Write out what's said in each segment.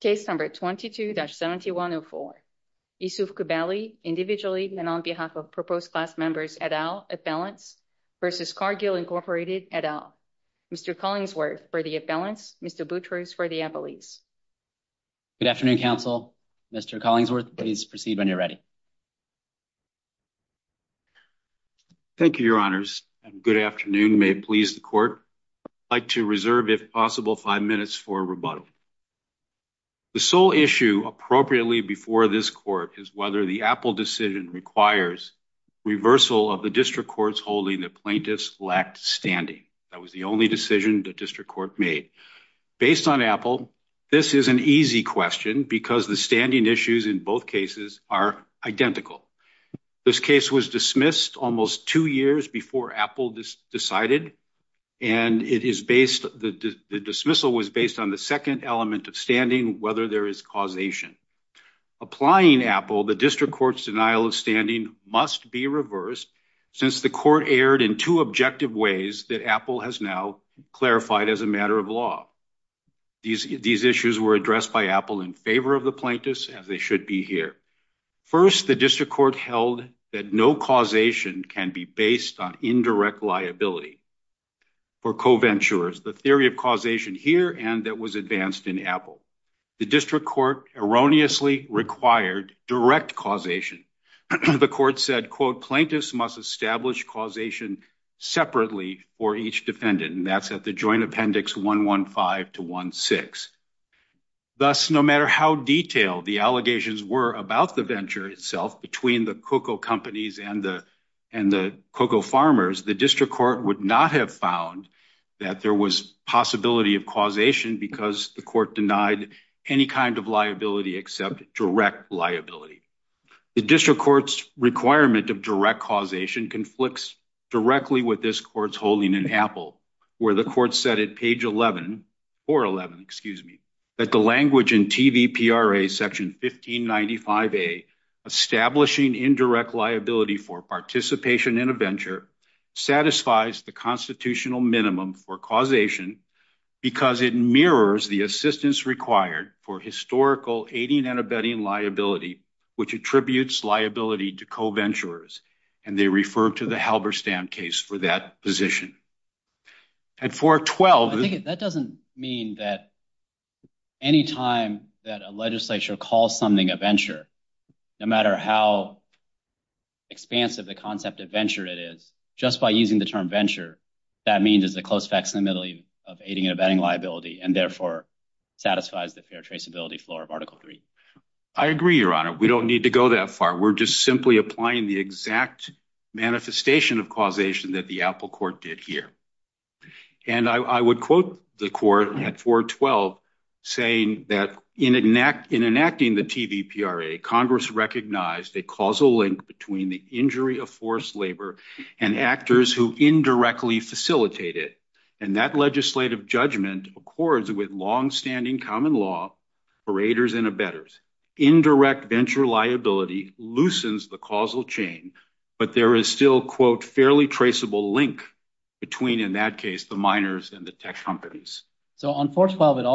Case number 22-7104. Yousouf Coubaly, individually and on behalf of proposed class members, et al., appellants, versus Cargill Incorporated, et al. Mr. Collingsworth for the appellants, Mr. Boutrous for the appellees. Good afternoon, counsel. Mr. Collingsworth, please proceed when you're ready. Thank you, your honors, and good afternoon. May it please the court. I'd like to reserve, if possible, five minutes for rebuttal. The sole issue, appropriately before this court, is whether the Apple decision requires reversal of the district court's holding that plaintiffs lacked standing. That was the only decision the district court made. Based on Apple, this is an easy question because the standing issues in both cases are identical. This case was dismissed almost two years before Apple decided, and the dismissal was based on the second element of standing, whether there is causation. Applying Apple, the district court's denial of standing must be reversed since the court erred in two objective ways that Apple has now clarified as a matter of law. These issues were addressed by Apple in favor of the plaintiffs, as they should be here. First, the district court held that no causation can be based on indirect liability. For co-venturers, the theory of causation here and that was advanced in Apple, the district court erroneously required direct causation. The court said, quote, plaintiffs must establish causation separately for each defendant, and that's at the joint appendix 115 to 16. Thus, no matter how detailed the allegations were about the venture itself between the cocoa companies and the cocoa farmers, the district court would not have found that there was possibility of causation because the court denied any kind of liability except direct liability. The district court's requirement of direct causation conflicts directly with this court's holding in Apple, where the court said at page 11, or 11, excuse me, that the language in TVPRA section 1595A, establishing indirect liability for participation in a venture satisfies the constitutional minimum for causation because it mirrors the assistance required for historical aiding and abetting liability, which attributes liability to co-venturers, and they refer to the Halberstam case for that position. At 412- I think that doesn't mean that any time that a legislature calls something a venture, no matter how expansive the concept of venture it is, just by using the term venture, that means it's a close fix in the middle of aiding and abetting liability and therefore satisfies the fair traceability floor of Article 3. I agree, Your Honor. We don't need to go that far. We're just simply applying the exact manifestation of causation that the Apple court did here. And I would quote the court at 412 saying that, in enacting the TVPRA, Congress recognized a causal link between the injury of forced labor and actors who indirectly facilitate it, and that legislative judgment accords with long-standing common law for aiders and abettors. Indirect venture liability loosens the causal chain, but there is still, quote, fairly traceable link between, in that case, the miners and the tech companies. So on 412 it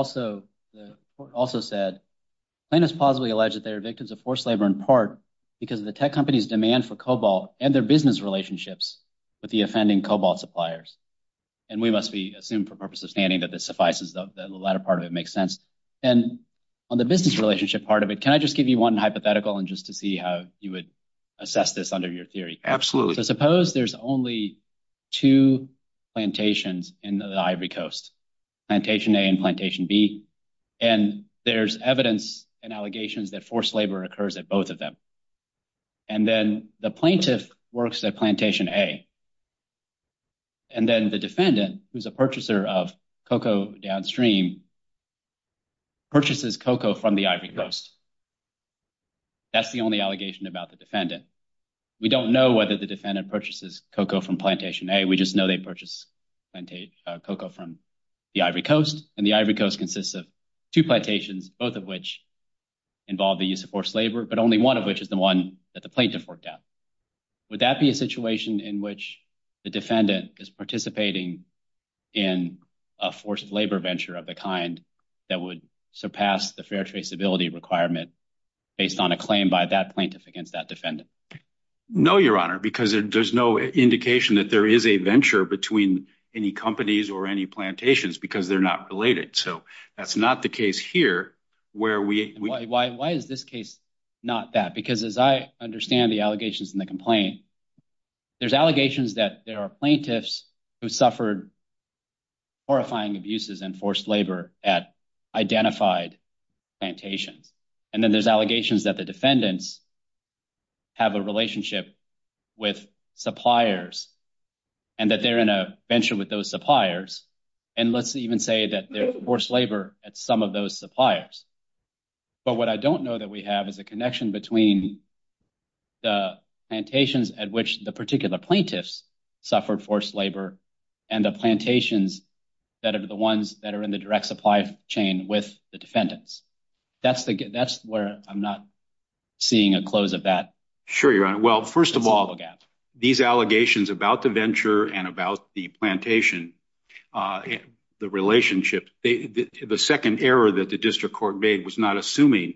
also said, plaintiffs plausibly allege that they are victims of forced labor in part because of the tech companies' demand for cobalt and their business relationships with the offending cobalt suppliers. And we must assume, for purposes of standing, that this suffices, that the latter part of it just to see how you would assess this under your theory. Absolutely. Suppose there's only two plantations in the Ivory Coast, Plantation A and Plantation B, and there's evidence and allegations that forced labor occurs at both of them. And then the plaintiff works at Plantation A, and then the defendant, who's a purchaser of cocoa downstream, purchases cocoa from the Ivory Coast. That's the only allegation about the defendant. We don't know whether the defendant purchases cocoa from Plantation A. We just know they purchase cocoa from the Ivory Coast, and the Ivory Coast consists of two plantations, both of which involve the use of forced labor, but only one of which is the one that the plaintiff worked at. Would that be a situation in which the defendant is participating in a forced labor venture of the kind that would surpass the fair traceability requirement based on a claim by that plaintiff against that defendant? No, Your Honor, because there's no indication that there is a venture between any companies or any plantations because they're not related. So that's not the case here where we- Why is this case not that? Because as I understand the allegations in the complaint, there's allegations that there are plaintiffs who suffered horrifying abuses and forced labor at identified plantations, and then there's allegations that the defendants have a relationship with suppliers and that they're in a venture with those suppliers, and let's even say that they're forced labor at some of those suppliers. But what I don't know that we have is a connection between the plantations at which the particular plaintiffs suffered forced labor and the plantations that are the ones that are in the direct supply chain with the defendants. That's where I'm not seeing a close of that. Sure, Your Honor. Well, first of all, these allegations about the venture and about the plantation, the relationship, the second error that the district court made was not assuming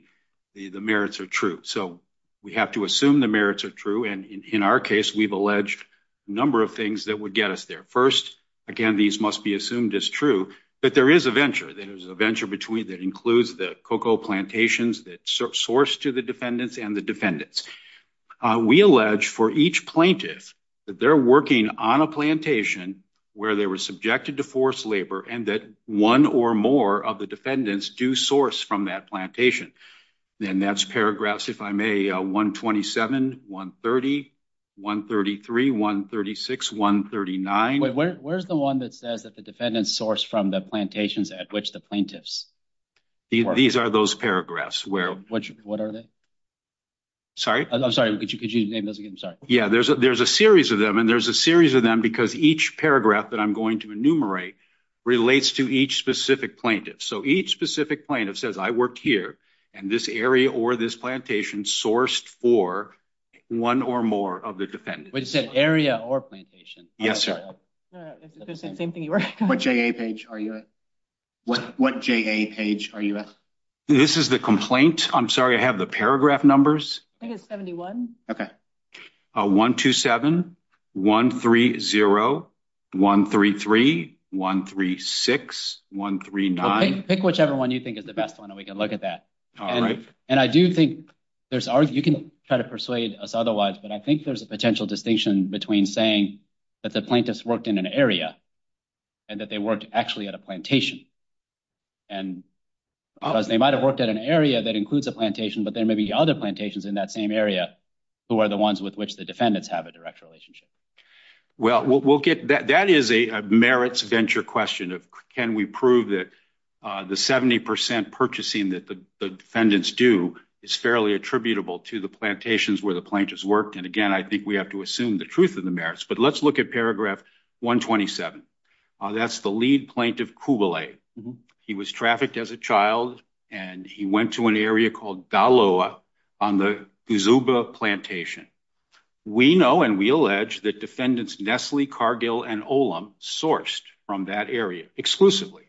the merits are true. So we have to assume the merits are true. And in our case, we've alleged a number of things that would get us there. First, again, these must be assumed as true, but there is a venture. There's a venture that includes the cocoa plantations that source to the defendants and the defendants. We allege for each plaintiff that they're working on a plantation where they were subjected to forced labor and that one or more of the defendants do plantation. And that's paragraphs, if I may, 127, 130, 133, 136, 139. Wait, where's the one that says that the defendants source from the plantations at which the plaintiffs? These are those paragraphs. What are they? Sorry? I'm sorry. Could you name those again? Sorry. Yeah, there's a series of them. And there's a series of them because each paragraph that I'm going to enumerate relates to each specific plaintiff. So each specific plaintiff says, I worked here and this area or this plantation sourced for one or more of the defendants. Is it area or plantation? Yes, sir. No, no, it's the same thing. What J.A. page are you at? What J.A. page are you at? This is the complaint. I'm sorry, I have the paragraph numbers. I think it's 71. Okay. 127, 130, 133, 136, 139. Pick whichever one you think is the best one and we can look at that. All right. And I do think there's, you can try to persuade us otherwise, but I think there's a potential distinction between saying that the plaintiffs worked in an area and that they worked actually at a plantation. And they might have worked at an area that includes a plantation, but there may be other plantations in that same area who are the ones with which the defendants have a direct relationship. Well, we'll get, that is a merits venture question of can we prove that the 70% purchasing that the defendants do is fairly attributable to the plantations where the plaintiffs worked. And again, I think we have to assume the truth of the merits, but let's look at paragraph 127. That's the lead plaintiff, Kouvelet. He was trafficked as a child and he went to an area called Daloa on the Uzuba plantation. We know and we allege that defendants Nestle, Cargill, and Olam sourced from that area exclusively.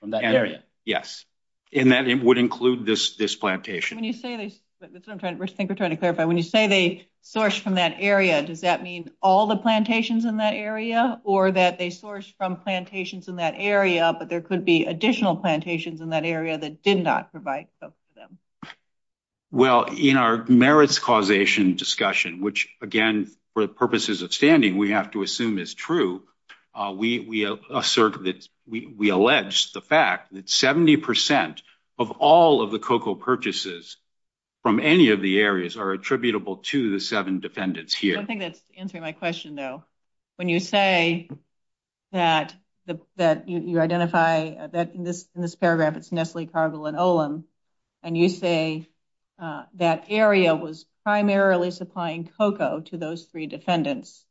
From that area? Yes. And that would include this plantation. When you say this, that's what I'm trying, I think we're trying to clarify. When you say they sourced from that area, does that mean all the plantations in that area or that they sourced from plantations in that area, but there could be additional plantations in that area that did not provide for them? Well, in our merits causation discussion, which again, for the purposes of standing, we have to assume is true. We assert that, we allege the fact that 70% of all of the cocoa purchases from any of the areas are attributable to the seven defendants here. I don't think that's answering my question though. When you say that you identify that in this paragraph, it's Nestle, Cargill, and Olam, and you say that area was primarily supplying cocoa to those three defendants.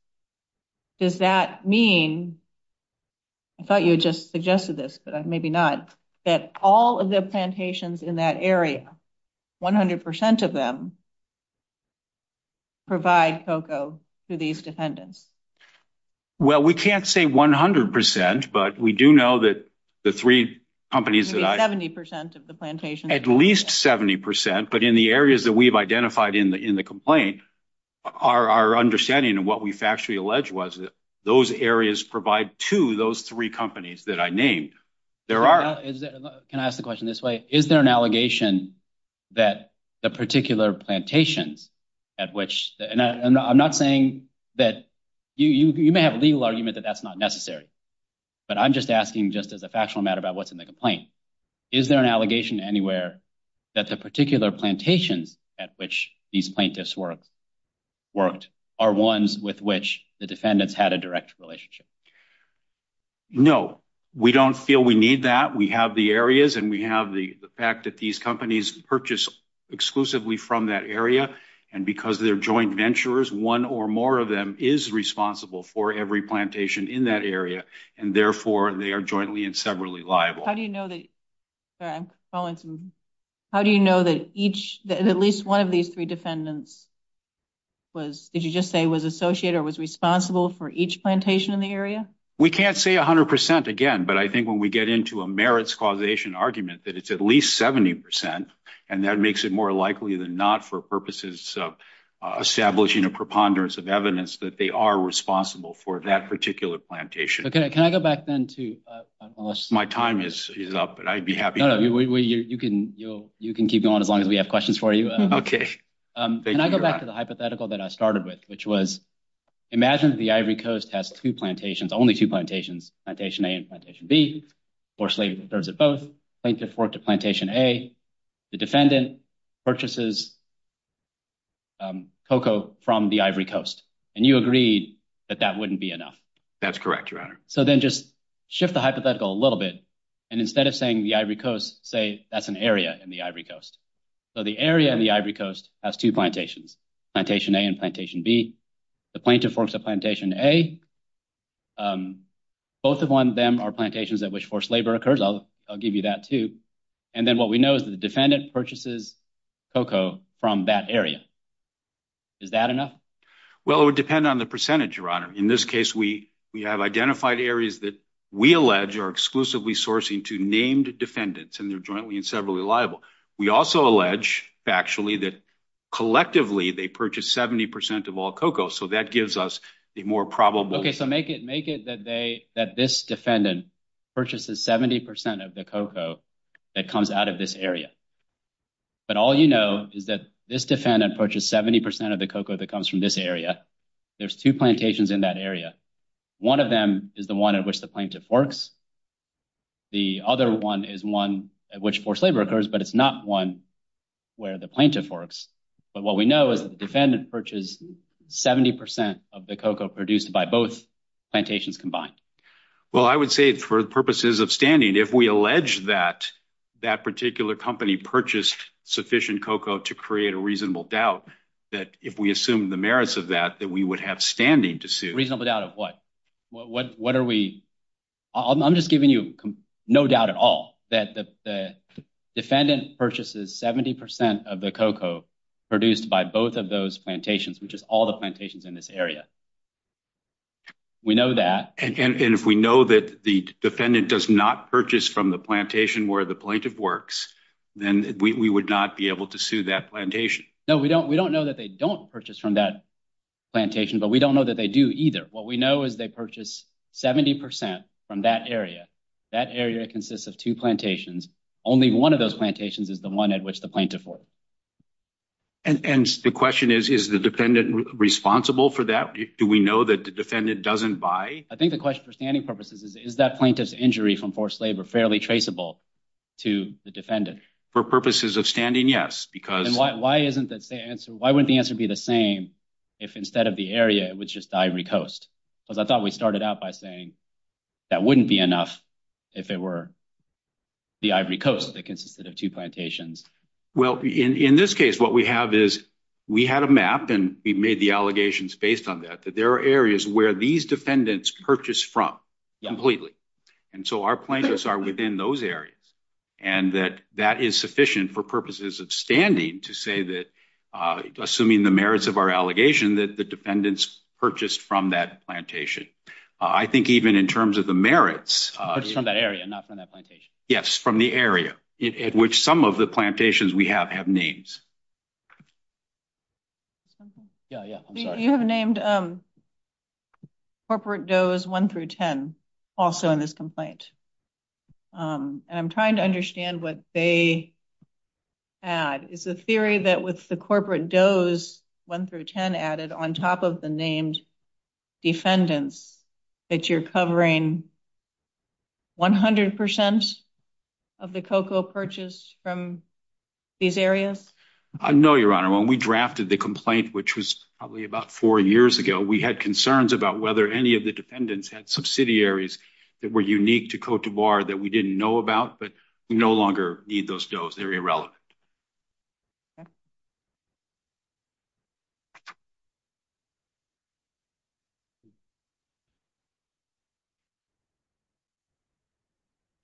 Does that mean, I thought you had just suggested this, maybe not, that all of the plantations in that area, 100% of them, provide cocoa to these defendants? Well, we can't say 100%, but we do know that the three companies that I- 70% of the plantations- At least 70%, but in the areas that we've identified in the complaint, our understanding and what we factually alleged was that those areas provide to those three companies that I named. Can I ask the question this way? Is there an allegation that the particular plantations at which, and I'm not saying that, you may have a legal argument that that's not necessary, but I'm just asking just as a factual matter about what's in the complaint. Is there an allegation anywhere that the particular plantations at which these plaintiffs worked are ones with which the defendants had a direct relationship? No, we don't feel we need that. We have the areas and we have the fact that these companies purchase exclusively from that area, and because they're joint venturers, one or more of them is responsible for every plantation in that area, and therefore they are jointly and severally liable. How do you know that at least one of these three defendants was- did you just say was associated or was responsible for each plantation in the area? We can't say 100% again, but I think when we get into a merits causation argument that it's at least 70%, and that makes it more likely than not for purposes of establishing a preponderance of evidence that they are responsible for that particular plantation. Okay, can I go back then to- My time is up, and I'd be happy- No, no, you can keep going as long as we have questions for you. Okay, thank you for that. Can I go back to the hypothetical that I started with, which was imagine the Ivory Coast has two plantations, only two plantations, Plantation A and Plantation B, or slated to serve as both, plaintiffs worked at Plantation A, the defendant purchases cocoa from the Ivory Coast, and you agreed that that wouldn't be enough. That's correct, your honor. So then just shift the hypothetical a little bit, and instead of saying the Ivory Coast, say that's an area in the Ivory Coast. So the area in the Ivory Coast has two plantations, Plantation A and Plantation B, the plaintiff works at Plantation A, both of them are plantations at which forced labor occurs, I'll give you that too, and then what we know is the defendant purchases cocoa from that area. Is that enough? Well, it would depend on the percentage, your honor. In this case, we have identified areas that we allege are exclusively sourcing to named defendants, and they're jointly and severally liable. We also allege factually that collectively they purchase 70% of all cocoa, so that gives us a more probable... Okay, so make it that this defendant purchases 70% of the cocoa that comes out of this area, but all you know is that this defendant purchased 70% of the cocoa that comes from this area, there's two plantations in that area. One of them is the one at which the plaintiff works, the other one is one at which forced labor occurs, but it's not one where the plaintiff works. But what we know is the defendant purchased 70% of the cocoa produced by both plantations combined. Well, I would say for purposes of standing, if we allege that that particular company purchased sufficient cocoa to create a reasonable doubt, that if we assume the merits of that, that we would have standing to sue. Reasonable doubt of what? What are we... I'm just giving you no doubt at all that the defendant purchases 70% of the cocoa produced by both of those plantations, which is all the plantations in this area. We know that. And if we know that the defendant does not purchase from the plantation where the plaintiff works, then we would not be able to sue that plantation. No, we don't know that they don't purchase from that plantation, but we don't know that they do either. What we know is they purchase 70% from that area. That area consists of two plantations, only one of those plantations is the one at which the plaintiff works. And the question is, is the defendant responsible for that? Do we know that the defendant doesn't buy? I think the question for standing purposes is, is that plaintiff's injury from forced labor fairly traceable to the defendant? For purposes of standing, yes, because... Why wouldn't the answer be the same if instead of the area, it was just the Ivory Coast? Because I thought we started out by saying that wouldn't be enough if it were the Ivory Coast that consisted of two plantations. Well, in this case, what we have is we had a map and we made the allegations based on that, that there are areas where these defendants purchase from completely. And so our plaintiffs are within those areas. And that that is sufficient for purposes of standing to say that, assuming the merits of our allegation, that the defendants purchased from that plantation. I think even in terms of the merits... From that area, not from that plantation. Yes, from the area at which some of the plantations we have have names. Yeah, yeah. I'm sorry. You have named corporate does one through 10 also in this complaint. I'm trying to understand what they add. Is the theory that with the corporate does one through 10 added on top of the names defendants that you're covering 100% of the cocoa purchase from these areas? No, Your Honor. When we drafted the complaint, which was probably about four years ago, we had concerns about whether any of the defendants had subsidiaries that were unique to Cote d'Ivoire that we didn't know about, but we no longer need those does. They're irrelevant.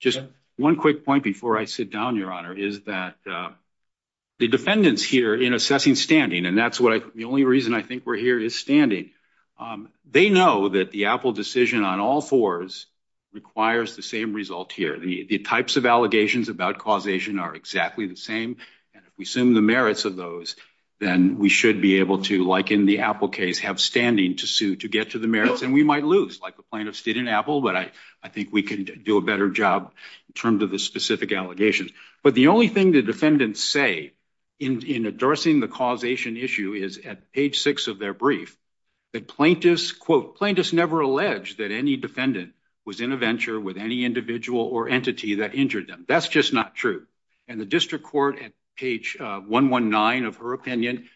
Just one quick point before I sit down, Your Honor, is that the defendants here in assessing standing, and that's the only reason I think we're here is standing. They know that the Apple decision on all fours requires the same result here. The types of allegations about causation are exactly the same. And if we assume the merits of those, then we should be able to, like in the Apple case, have standing to sue to get to the merits. And we might lose, like the plaintiffs did in Apple, but I think we can do a better job in terms of the specific allegations. But the only thing the defendants say in addressing the causation issue is at page six of their brief that plaintiffs, quote, plaintiffs never alleged that any defendant was in a venture with any individual or entity that injured them. That's just not true. And the district court at page 119 of her opinion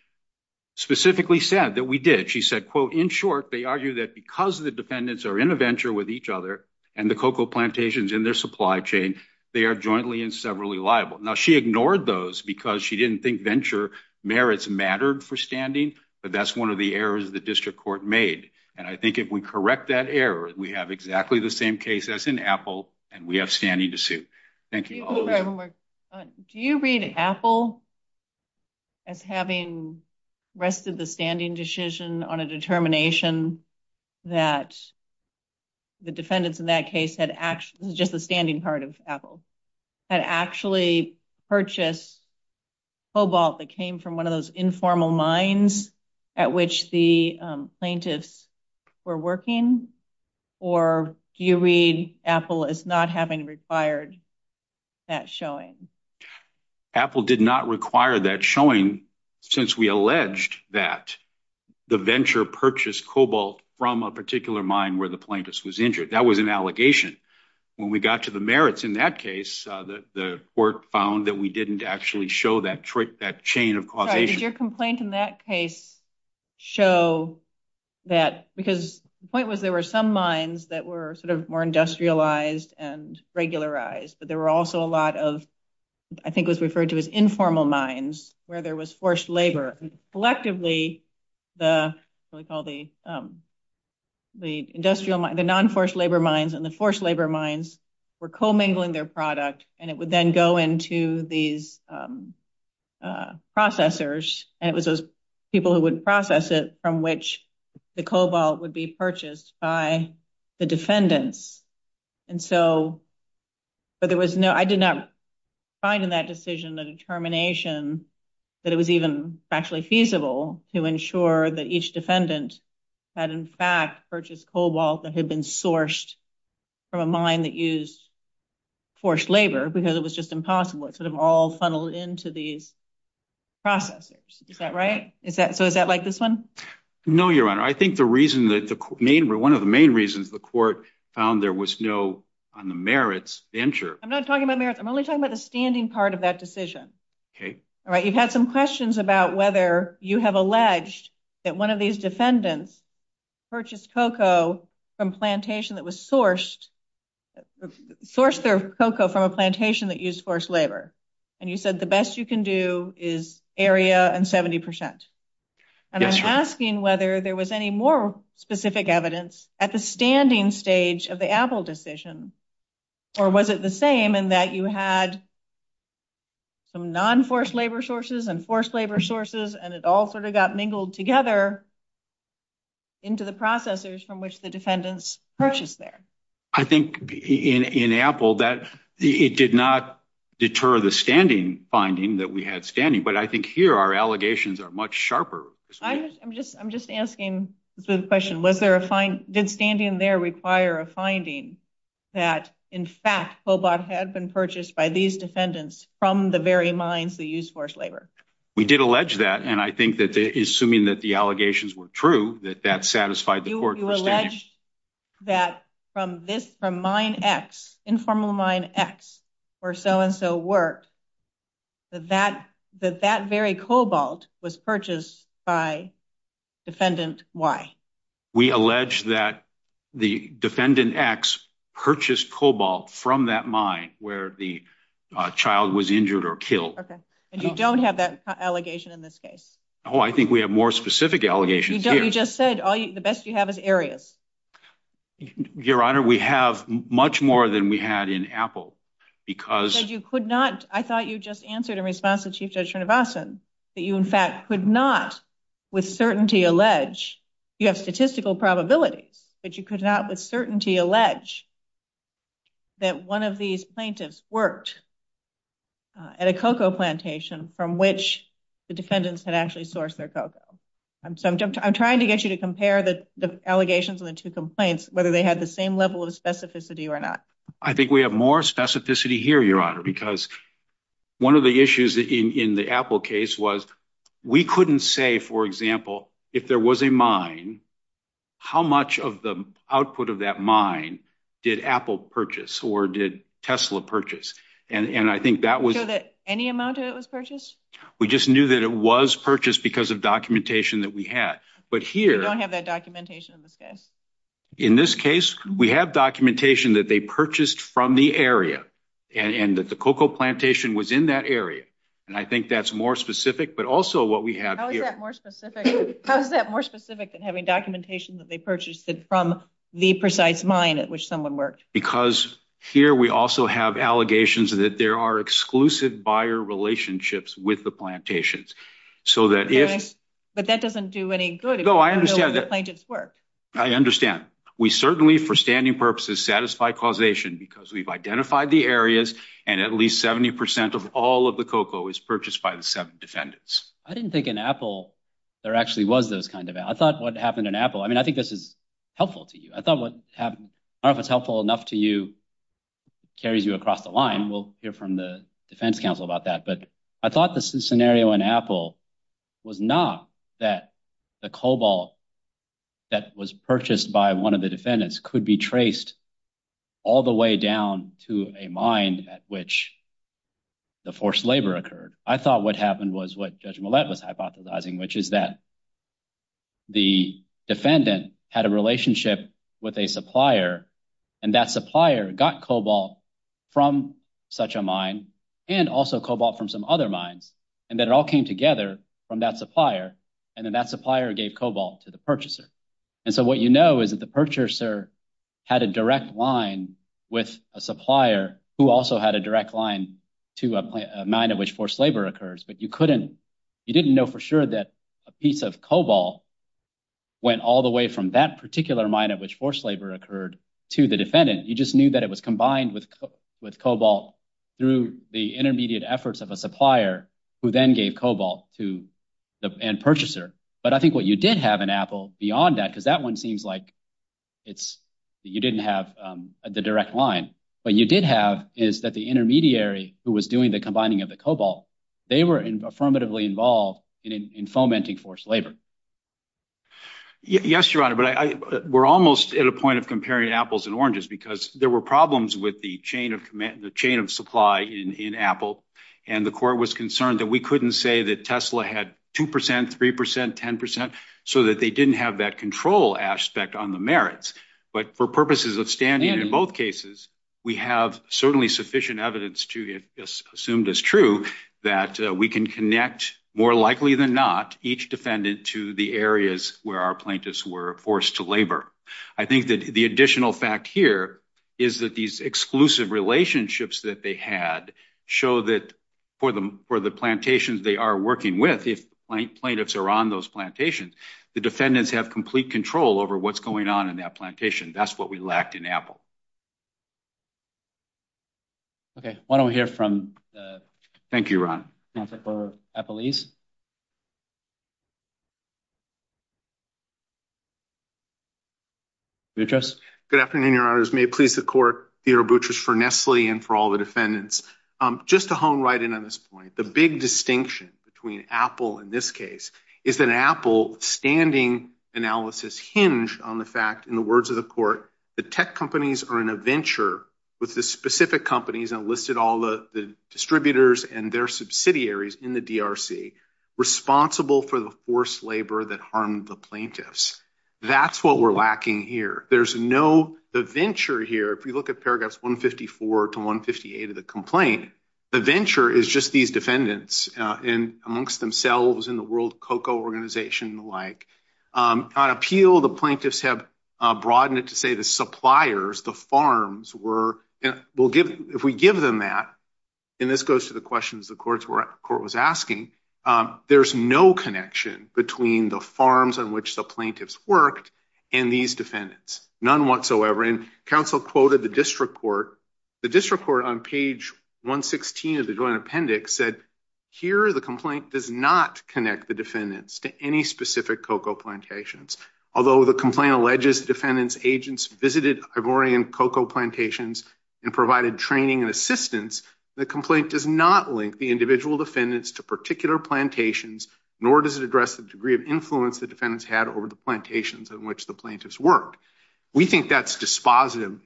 specifically said that we did. She said, quote, in short, they argue that because the defendants are in a venture with each other and the cocoa plantations in their supply chain, they are jointly and severally liable. Now, she ignored those because she didn't think venture merits mattered for standing, but that's one of the errors the district court made. And I think if we correct that error, we have exactly the same case as in Apple, and we have standing to sue. Thank you. Do you read Apple as having rested the standing decision on a determination that the defendants in that case had actually, just a standing part of Apple, had actually purchased cobalt that came from one of those informal mines at which the plaintiffs were working? Or do you read Apple as not having required that showing? Apple did not require that showing since we alleged that the venture purchased cobalt from a particular mine where the plaintiffs was injured. That was an allegation. When we got to the merits in that case, the court found that we didn't actually show that chain of causation. Did your complaint in that case show that, because the point was there were some mines that were sort of more industrialized and regularized, but there were also a lot of, I think it was referred to as informal mines, where there was forced labor. Collectively, the non-forced labor mines and the forced labor mines were co-mingling their product, and it would then go into these processors, and it was those people who would process it, which the cobalt would be purchased by the defendants. I did not find in that decision the determination that it was even actually feasible to ensure that each defendant had, in fact, purchased cobalt that had been sourced from a mine that used forced labor, because it was just impossible. It sort of all funneled into these processors. Is that right? So, is that like this one? No, Your Honor. I think one of the main reasons the court found there was no, on the merits, venture... I'm not talking about merits. I'm only talking about the standing part of that decision. Okay. All right. You've had some questions about whether you have alleged that one of these defendants purchased cocoa from a plantation that was sourced, sourced their cocoa from a plantation that used forced labor, and you said the best you can do is area and 70%. Yes, Your Honor. And I'm asking whether there was any more specific evidence at the standing stage of the Apple decision, or was it the same in that you had some non-forced labor sources and forced labor sources, and it all sort of got mingled together into the processors from which the defendants purchased there? I think in Apple, it did not deter the standing finding that we had standing, but I think here our allegations are much sharper. I'm just asking the question, did standing there require a finding that, in fact, Hobart had been purchased by these defendants from the very mines that used forced labor? We did allege that, and I think that, assuming that the allegations were true, that that satisfied the court. You allege that from this, from mine X, informal mine X, where so-and-so worked, that that very cobalt was purchased by defendant Y. We allege that the defendant X purchased cobalt from that mine where the child was injured or killed. Okay. And you don't have that allegation in this case? Oh, I think we have more specific allegations here. You don't. You just said the best you have is areas. Your Honor, we have much more than we had in Apple because- Because you could not, I thought you just answered in response to Chief Judge Rinovasan, that you, in fact, could not with certainty allege, you have statistical probability, but you could not with certainty allege that one of these plaintiffs worked at a cocoa plantation from which the defendants had actually sourced their cocoa. So I'm trying to get you to compare the allegations and the two complaints, whether they had the same level of specificity or not. I think we have more specificity here, Your Honor, because one of the issues in the Apple case was we couldn't say, for example, if there was a mine, how much of the output of that mine did Apple purchase or did Tesla purchase? And I think that was- Any amount of it was purchased? We just knew that it was purchased because of documentation that we had. But here- We don't have that documentation in this case. In this case, we have documentation that they purchased from the area and that the cocoa plantation was in that area. And I think that's more specific, but also what we have here- How is that more specific than having documentation that they purchased from the precise mine at which someone worked? Because here we also have allegations that there are exclusive buyer relationships with the plantations. So that if- But that doesn't do any good if you don't know where the plantations work. I understand. We certainly, for standing purposes, satisfy causation because we've identified the areas and at least 70% of all of the cocoa was purchased by the seven defendants. I didn't think in Apple there actually was those kind of- I thought what happened in Apple- I mean, I think this is helpful to you. I thought what happened- part of what's helpful enough to you carries you across the line. We'll hear from the defense counsel about that. But I thought the scenario in Apple was not that the cobalt that was purchased by one of the defendants could be traced all the way down to a mine at which the forced labor occurred. I thought what happened was what Judge Millett was hypothesizing, which is that the defendant had a relationship with a supplier and that supplier got cobalt from such a mine and also cobalt from some other mines and then it all came together from that supplier and then that supplier gave cobalt to the purchaser. And so what you know is that the purchaser had a direct line with a supplier who also had a direct line to a mine at which forced labor occurs, but you couldn't- you didn't know for sure that a piece of cobalt went all the way from that particular mine at which forced labor occurred to the defendant. You just knew that it was combined with cobalt through the intermediate efforts of a supplier who then gave cobalt to the end purchaser. But I think what you did have in Apple beyond that, because that one seems like it's- you didn't have the direct line, but you did have is that the intermediary who was doing the combining of the cobalt, they were affirmatively involved in fomenting forced labor. Yes, your honor, but we're almost at a point of comparing apples and oranges because there were problems with the chain of supply in Apple and the court was concerned that we couldn't say that Tesla had two percent, three percent, ten percent, so that they didn't have that control aspect on the merits. But for purposes of standing in both cases, we have certainly sufficient evidence to assume this true that we can connect, more likely than not, each defendant to the areas where our plaintiffs were forced to labor. I think that the additional fact here is that these exclusive relationships that they had show that for the plantations they are working with, if plaintiffs are on those plantations, the defendants have complete control over what's going on in that plantation. That's what we lacked in Apple. Okay, why don't we hear from- Thank you, Ron. Boutrous. Good afternoon, your honors. May it please the court, Theodore Boutrous, for Nestle and for all the defendants. Just to hone right in on this point, the big distinction between Apple in this case is that Apple standing analysis hinged on the fact, in the words of the court, the tech companies are in a venture with the specific companies and listed all the distributors and their subsidiaries in the DRC responsible for the forced labor that harmed the plaintiffs. That's what we're lacking here. There's no venture here. If we look at paragraphs 154 to 158 of the complaint, the venture is just these defendants and amongst themselves in the World Cocoa Organization and the like. On appeal, the plaintiffs have broadened it to say the suppliers, the farms, if we give them that, and this goes to the questions the court was asking, there's no connection between the farms on which the plaintiffs worked and these defendants, none whatsoever. Counsel quoted the district court. The district court on page 116 of the joint connect the defendants to any specific cocoa plantations. Although the complaint alleges defendants' agents visited Ivorian cocoa plantations and provided training and assistance, the complaint does not link the individual defendants to particular plantations, nor does it address the degree of influence the defendants had over the plantations on which the plaintiffs worked. We think that's dispositive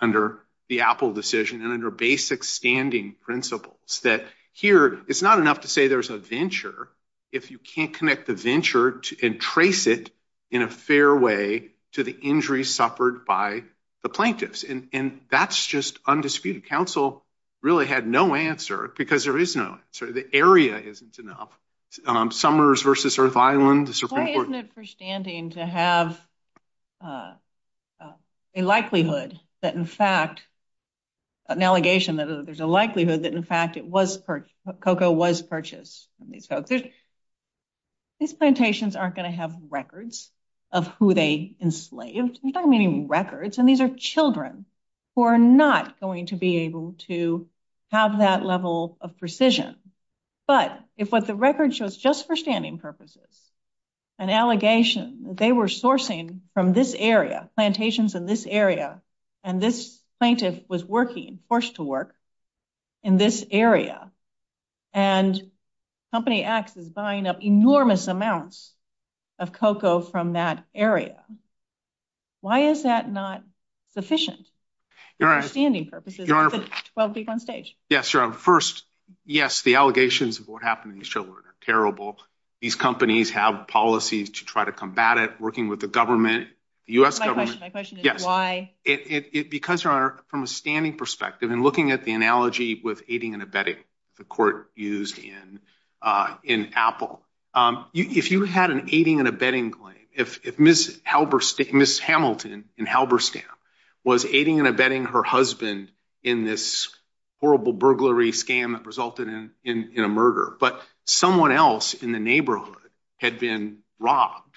under the Apple decision and under basic standing principles, that here, it's not enough to say there's a venture if you can't connect the venture and trace it in a fair way to the injuries suffered by the plaintiffs, and that's just undisputed. Counsel really had no answer because there is no answer. The area isn't enough. Summers v. Earth Island, the Supreme Court- Why isn't it for standing to have a likelihood that, in fact, an allegation that there's a likelihood that, in fact, it was- cocoa was purchased. These plantations aren't going to have records of who they enslaved. I'm not meaning records, and these are children who are not going to be able to have that level of precision. But if what the record shows, just for standing purposes, an allegation that they were sourcing from this area, plantations in this area, and this plaintiff was working, forced to work, in this area, and Company X is buying up enormous amounts of cocoa from that area, why is that not sufficient for standing purposes? Your Honor- 12 weeks on stage. Yes, Your Honor. First, yes, the allegations of what happened to these children are terrible. These companies have policies to try to combat it, working with the government, the U.S. government- My question is why- It becomes, Your Honor, from a standing perspective, and looking at the analogy with aiding and abetting, the court used in Apple. If you had an aiding and abetting claim, if Ms. Hamilton in Halberstam was aiding and abetting her husband in this horrible burglary scam that resulted in a murder, but someone else in the neighborhood had been robbed,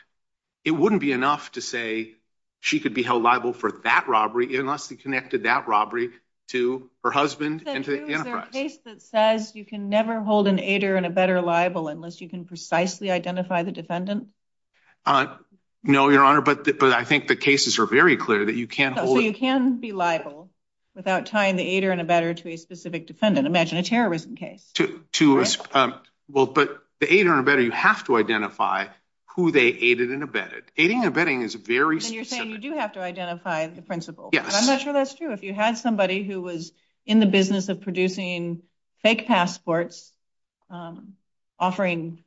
it wouldn't be enough to say she could be held liable for that robbery, unless he connected that robbery to her husband and to the antifract. Is there a case that says you can never hold an aider and abetter liable unless you can precisely identify the defendant? No, Your Honor, but I think the cases are very clear that you can't hold- Imagine a terrorism case. But the aider and abetter, you have to identify who they aided and abetted. Aiding and abetting is very specific. And you're saying you do have to identify the principal. Yes. I'm not sure that's true. If you had somebody who was in the business of producing fake passports, offering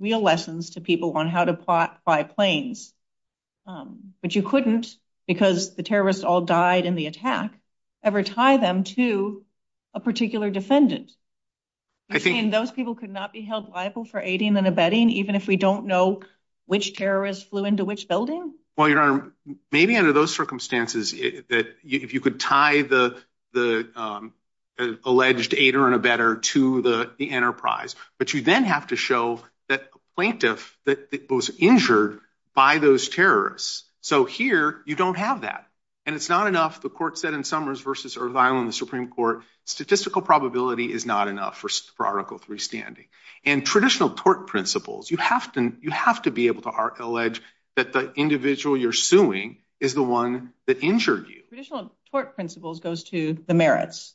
real lessons to people on how to buy planes, but you couldn't, because the terrorists all died in the attack, ever tie them to a particular defendant. I think- And those people could not be held liable for aiding and abetting, even if we don't know which terrorists flew into which building? Well, Your Honor, maybe under those circumstances, if you could tie the alleged aider and abetter to the enterprise, but you then have to show that plaintiff was injured by those terrorists. So here, you don't have that. And it's not enough, the court said in Summers versus Irvine in the Supreme Court, statistical probability is not enough for Article III standing. And traditional tort principles, you have to be able to allege that the individual you're suing is the one that injured you. Traditional tort principles goes to the merits.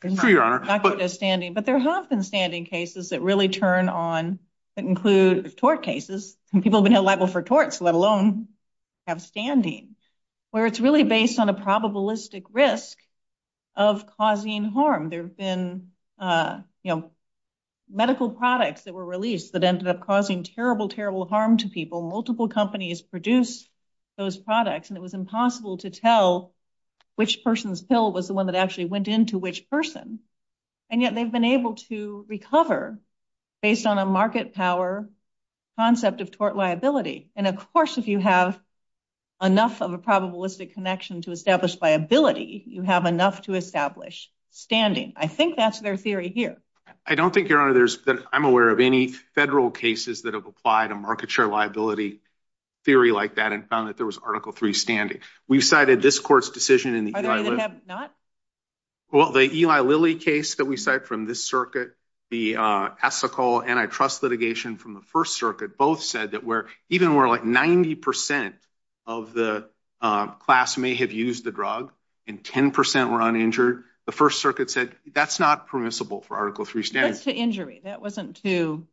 True, Your Honor. That's what they're standing. But there have been standing cases that really turn on, that include tort cases, and people have been held liable for torts, let alone have standing, where it's really based on a probabilistic risk of causing harm. There have been medical products that were released that ended up causing terrible, terrible harm to people. Multiple companies produced those products, and it was impossible to tell which person's pill was the one that actually went into which person. And yet they've been able to recover based on a market power concept of tort liability. And of course, if you have enough of a probabilistic connection to establish liability, you have enough to establish standing. I think that's their theory here. I don't think, Your Honor, that I'm aware of any federal cases that have applied a market share liability theory like that and found that there was Article III standing. We cited this court's decision in the Eli Lilly case that we cite from this circuit, the ethical antitrust litigation from the First Circuit. Both said that even where like 90% of the class may have used the drug and 10% were uninjured, the First Circuit said that's not permissible for Article III standing. That's to injury. That wasn't to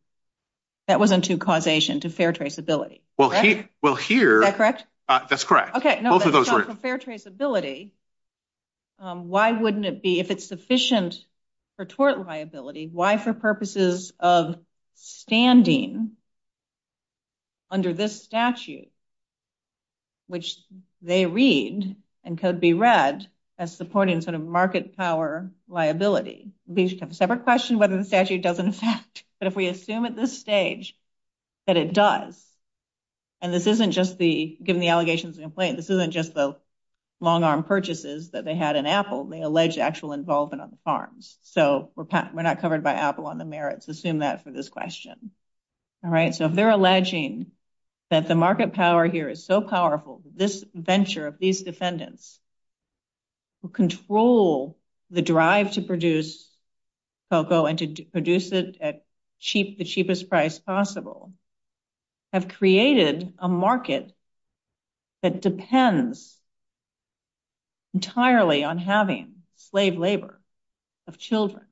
causation, to fair traceability. Well, here- Is that correct? That's correct. Okay. No, that's not for fair traceability. Why wouldn't it be, if it's sufficient for tort liability, why for purposes of standing under this statute, which they read and could be read as supporting sort of market power liability? It'd be a separate question whether the statute doesn't affect. But if we assume at this stage that it does, and this isn't just the, given the allegations this isn't just the long arm purchases that they had in Apple, they allege actual involvement on the farms. So we're not covered by Apple on the merits. Assume that for this question. All right. So if they're alleging that the market power here is so powerful that this venture of these defendants who control the drive to produce cocoa and to produce it at the cheapest price possible have created a market that depends entirely on having slave labor of children.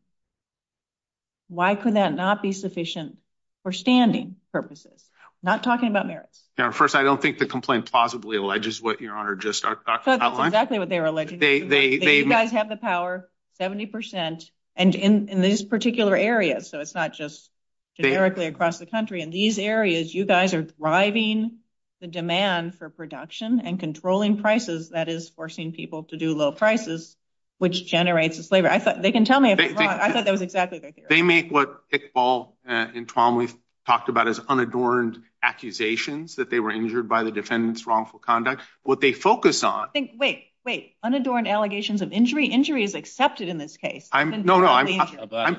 Why could that not be sufficient for standing purposes? Not talking about merits. Now, first, I don't think the complaint plausibly alleges what your Honor just outlined. Exactly what they were alleging. You guys have the power, 70%, and in this particular area. So it's not just generically across the country. In these areas, you guys are driving the demand for production and controlling prices that is forcing people to do low prices, which generates the slavery. I thought they can tell me. I thought that was exactly right. They make what we've talked about as unadorned accusations that they were injured by the defendants' wrongful conduct. What they focus on. Wait, wait. Unadorned allegations of injury. Injury is accepted in this case. No, no, I'm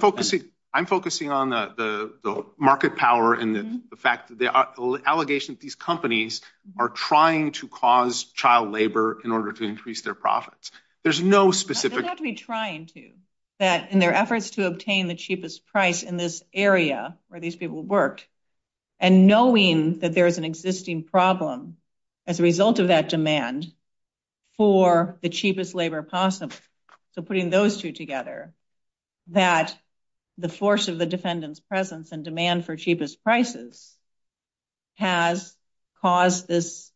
focusing on the market power and the fact that the allegations these companies are trying to cause child labor in order to increase their profits. There's no specific. They're actually trying to. That in their efforts to obtain the cheapest price in this area where these people work, and knowing that there is an existing problem as a result of that demand for the cheapest labor possible. So putting those two together, that the force of the defendant's presence and demand for cheapest prices has caused this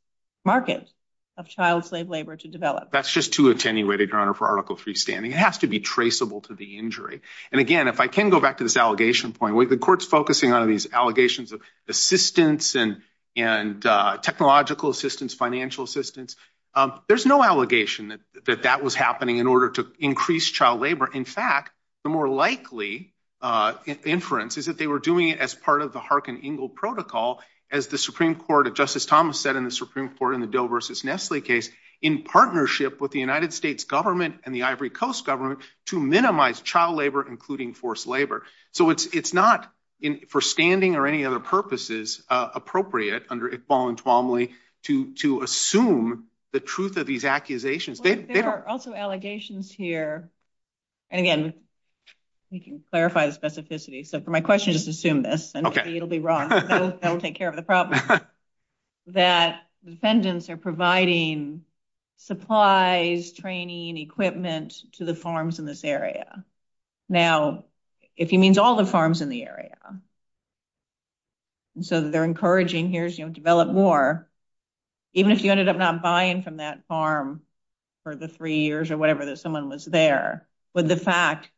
market of child slave labor to develop. That's just too attenuated, Your Honor, for Article III standing. It has to be traceable to the injury. And again, if I can go back to this allegation point, with the courts focusing on these allegations of assistance and technological assistance, financial assistance, there's no allegation that that was happening in order to increase child labor. In fact, the more likely inference is that they were doing it as part of the Harkin-Engel Protocol, as the Supreme Court of Justice Thomas said in the Supreme Court in the Bill versus Nestle case, in partnership with the United States government and the Ivory Coast government to minimize child labor, including forced labor. So it's not, for standing or any other purposes, appropriate under Iqbal and Twombly to assume the truth of these accusations. There are also allegations here. And again, we can clarify the specificity. So for my question, just assume this. And maybe it'll be wrong. Don't take care of the problem. That the defendants are providing supplies, training, equipment to the farms in this area. Now, if he means all the farms in the area, so they're encouraging, here's, you know, more, even if you ended up not buying from that farm for the three years or whatever, that someone was there, would the fact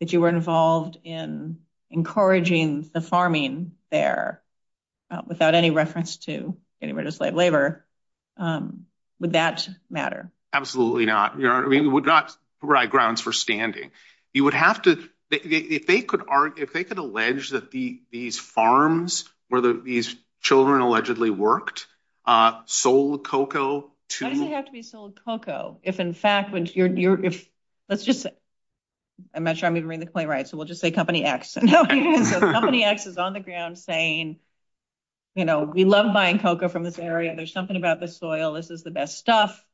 that you were involved in encouraging the farming there without any reference to getting rid of slave labor, would that matter? Absolutely not. I mean, it would not provide grounds for standing. You would have to, if they could argue, if they could allege that these farms where these children allegedly worked, sold cocoa to- Why did it have to be sold cocoa? If, in fact, when you're, if, let's just say, I'm not sure I'm going to read the playwright, so we'll just say company X. Company X is on the ground saying, you know, we love buying cocoa from this area. There's something about this soil. This is the best stuff.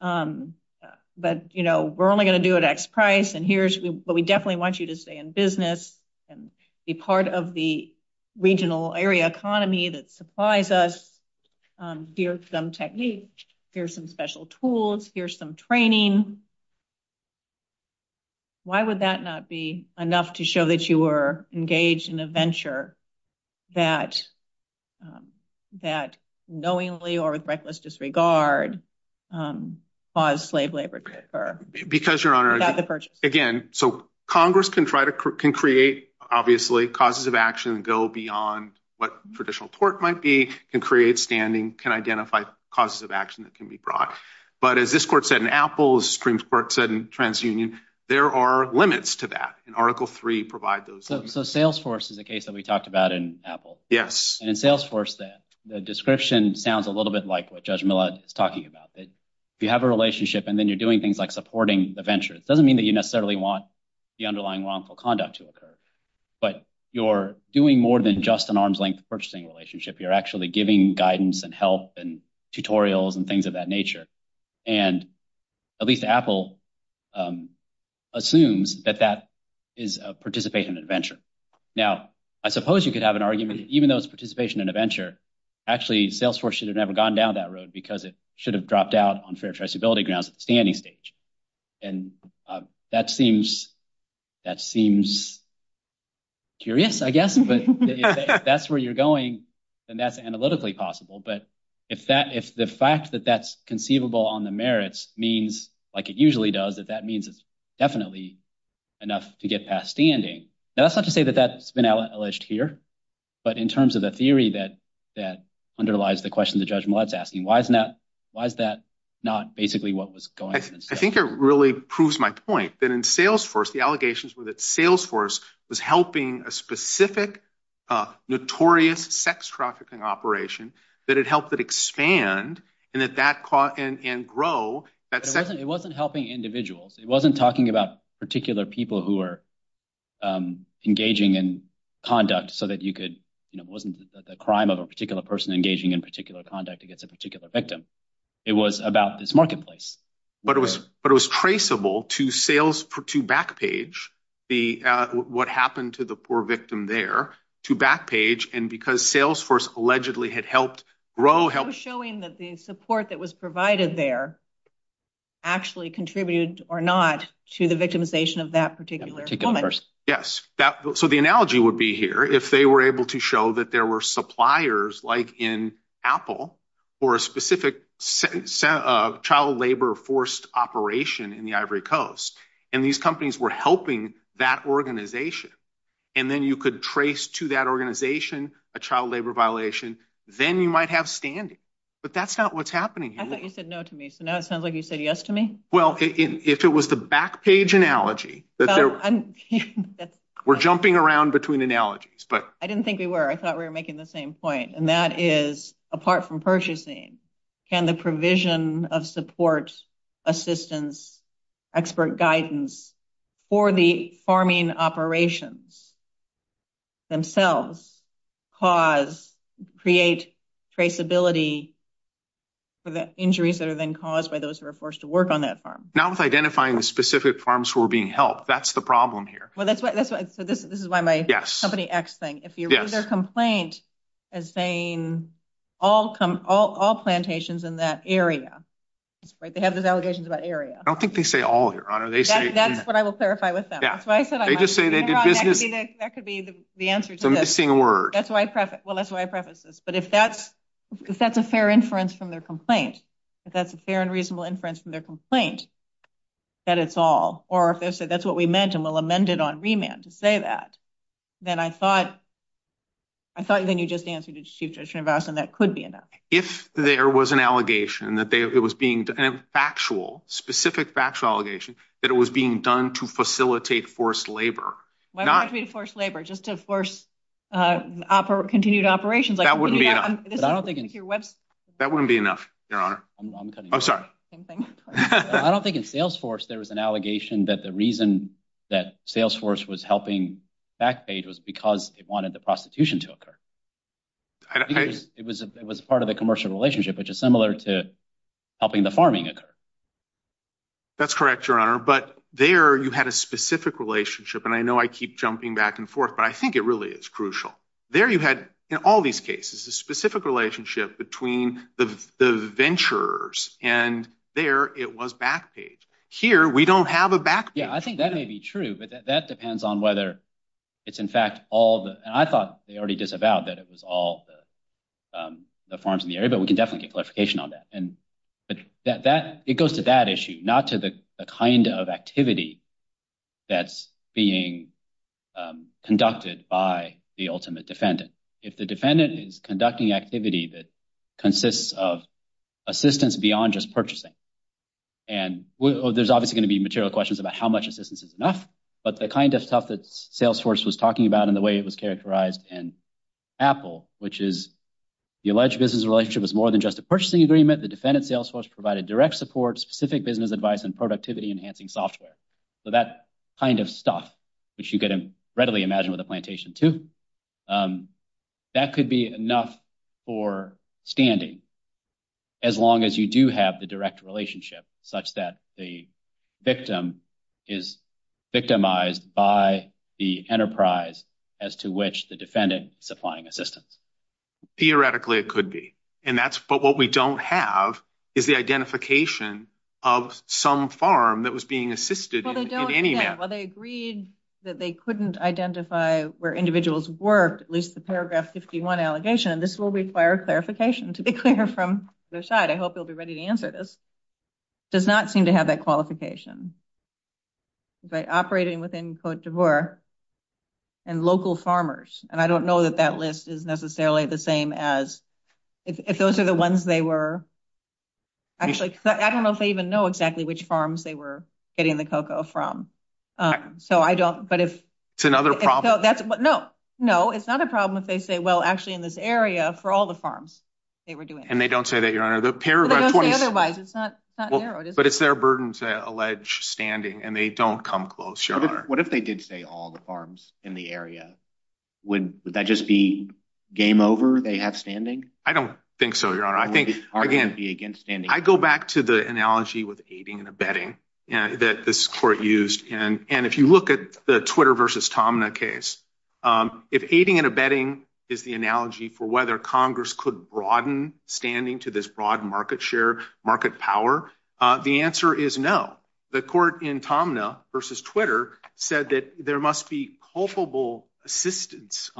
But, you know, we're only going to do it at X price. And here's what we definitely want you to say in business and be part of the regional area economy that supplies us. Here's some techniques. Here's some special tools. Here's some training. Why would that not be enough to show that you were engaged in a venture that knowingly or with reckless disregard caused slave labor to occur? Because, Your Honor, again, so Congress can try to create, obviously, causes of action that go beyond what traditional tort might be, can create standing, can identify causes of action that can be brought. But as this court said in Apple, as Supreme Court said in TransUnion, there are limits to that. And Article III provides those- So Salesforce is a case that we talked about in Apple. Yes. And in Salesforce, the description sounds a little bit like what Judge Millad is talking about. If you have a relationship and then you're doing things like supporting the venture, it doesn't mean that you necessarily want the underlying wrongful conduct to occur. But you're doing more than just an arm's length purchasing relationship. You're actually giving guidance and help and tutorials and things of that nature. And at least Apple assumes that that is a participation in a venture. Now, I suppose you could have an argument, even though it's participation in a venture, actually, Salesforce should have never gone down that road because it should have dropped out on fair traceability grounds at the standing stage. And that seems curious, I guess. But if that's where you're going, then that's analytically possible. But if the fact that that's conceivable on the merits means, like it usually does, that that means it's definitely enough to get past standing. Now, that's not to say that that's been alleged here, but in terms of the theory that underlies the question that Judge Millad's asking, why is that not basically what was going on? I think it really proves my point that in Salesforce, the allegations were that Salesforce was helping a specific notorious sex trafficking operation, that it helped it expand and that that caught in and grow. It wasn't helping individuals. It wasn't talking about particular people who are engaging in conduct so that you could, you know, it wasn't the crime of a particular person engaging in particular conduct against a particular victim. It was about this marketplace. But it was traceable to sales, to Backpage, what happened to the poor victim there, to Backpage. And because Salesforce allegedly had helped grow. It was showing that the support that was provided there actually contributed or not to the victimization of that particular woman. Yes, so the analogy would be here if they were able to show that there were suppliers like in Apple or a specific child labor forced operation in the Ivory Coast. And these companies were helping that organization. And then you could trace to that organization a child labor violation. Then you might have standing. But that's not what's happening here. I thought you said no to me. So now it sounds like you said yes to me. Well, if it was the Backpage analogy, we're jumping around between analogies. But I didn't think we were. I thought we were making the same point. And that is, apart from purchasing, can the provision of support, assistance, expert guidance for the farming operations themselves cause, create traceability for the injuries that have been caused by those who are forced to work on that farm? Not with identifying the specific farms who are being helped. That's the problem here. Well, that's why this is my company X thing. If you read their complaint as saying all plantations in that area. They have these allegations about area. I don't think they say all, Your Honor. That's what I will clarify with them. That's what I said. They just say they did business. That could be the answer to this. They're missing a word. That's why I preface this. But if that's a fair inference from their complaint, if that's a fair and reasonable inference from their complaint, that it's all. Or if they say that's what we meant and we'll amend it on remand to say that. Then I thought. I thought then you just answered it. Chief, that could be enough. If there was an allegation that it was being factual, specific batch allegation that it was being done to facilitate forced labor. Why force labor just to force? Continued operations. That wouldn't be enough. Your Honor, I'm sorry. I don't think in Salesforce, there was an allegation that the reason that Salesforce was helping back page was because it wanted the prostitution to occur. It was it was part of a commercial relationship, which is similar to. Helping the farming occur. That's correct, Your Honor. But there you had a specific relationship, and I know I keep jumping back and forth, but I think it really is crucial there. You had all these cases, a specific relationship between the ventures and there it was back page here. We don't have a back. I think that may be true, but that depends on whether it's in fact all the I thought they already disavowed that it was all the farms in the area, but we can definitely get clarification on that and that it goes to that issue, not to the kind of activity. That's being conducted by the ultimate defendant. If the defendant is conducting activity that consists of assistance beyond just purchasing. And there's obviously going to be material questions about how much assistance is enough, but the kind of stuff that Salesforce was talking about in the way it was characterized in Apple, which is the alleged business relationship is more than just a purchasing agreement. The defendant Salesforce provided direct support, specific business advice and productivity enhancing software. So that kind of stuff, which you can readily imagine with a plantation to that could be enough for standing. As long as you do have the direct relationship such that the victim is victimized by the enterprise as to which the defendant supplying assistance. Theoretically, it could be, and that's what we don't have is the identification of some farm that was being assisted. Well, they agreed that they couldn't identify where individuals work, at least the paragraph 51 allegation. And this will require clarification to declare from their side. I hope you'll be ready to answer. This does not seem to have that qualification. But operating within court to work and local farmers, and I don't know that that list is necessarily the same as if those are the ones they were. Actually, I don't know if they even know exactly which farms they were getting the cocoa from, so I don't. But if it's another problem, no, no, it's not a problem. They say, well, actually, in this area for all the farms they were doing, and they don't say that, you know, the paragraph, but it's their burdens that allege standing and they don't come close. What if they did say all the farms in the area? Would that just be game over? They have standing? I don't think so. I go back to the analogy with aiding and abetting that this court used. And if you look at the Twitter versus Tomna case, if aiding and abetting is the analogy for whether Congress could broaden standing to this broad market share, market power, the answer is no. The court in Tomna versus Twitter said that there must be culpable assistance.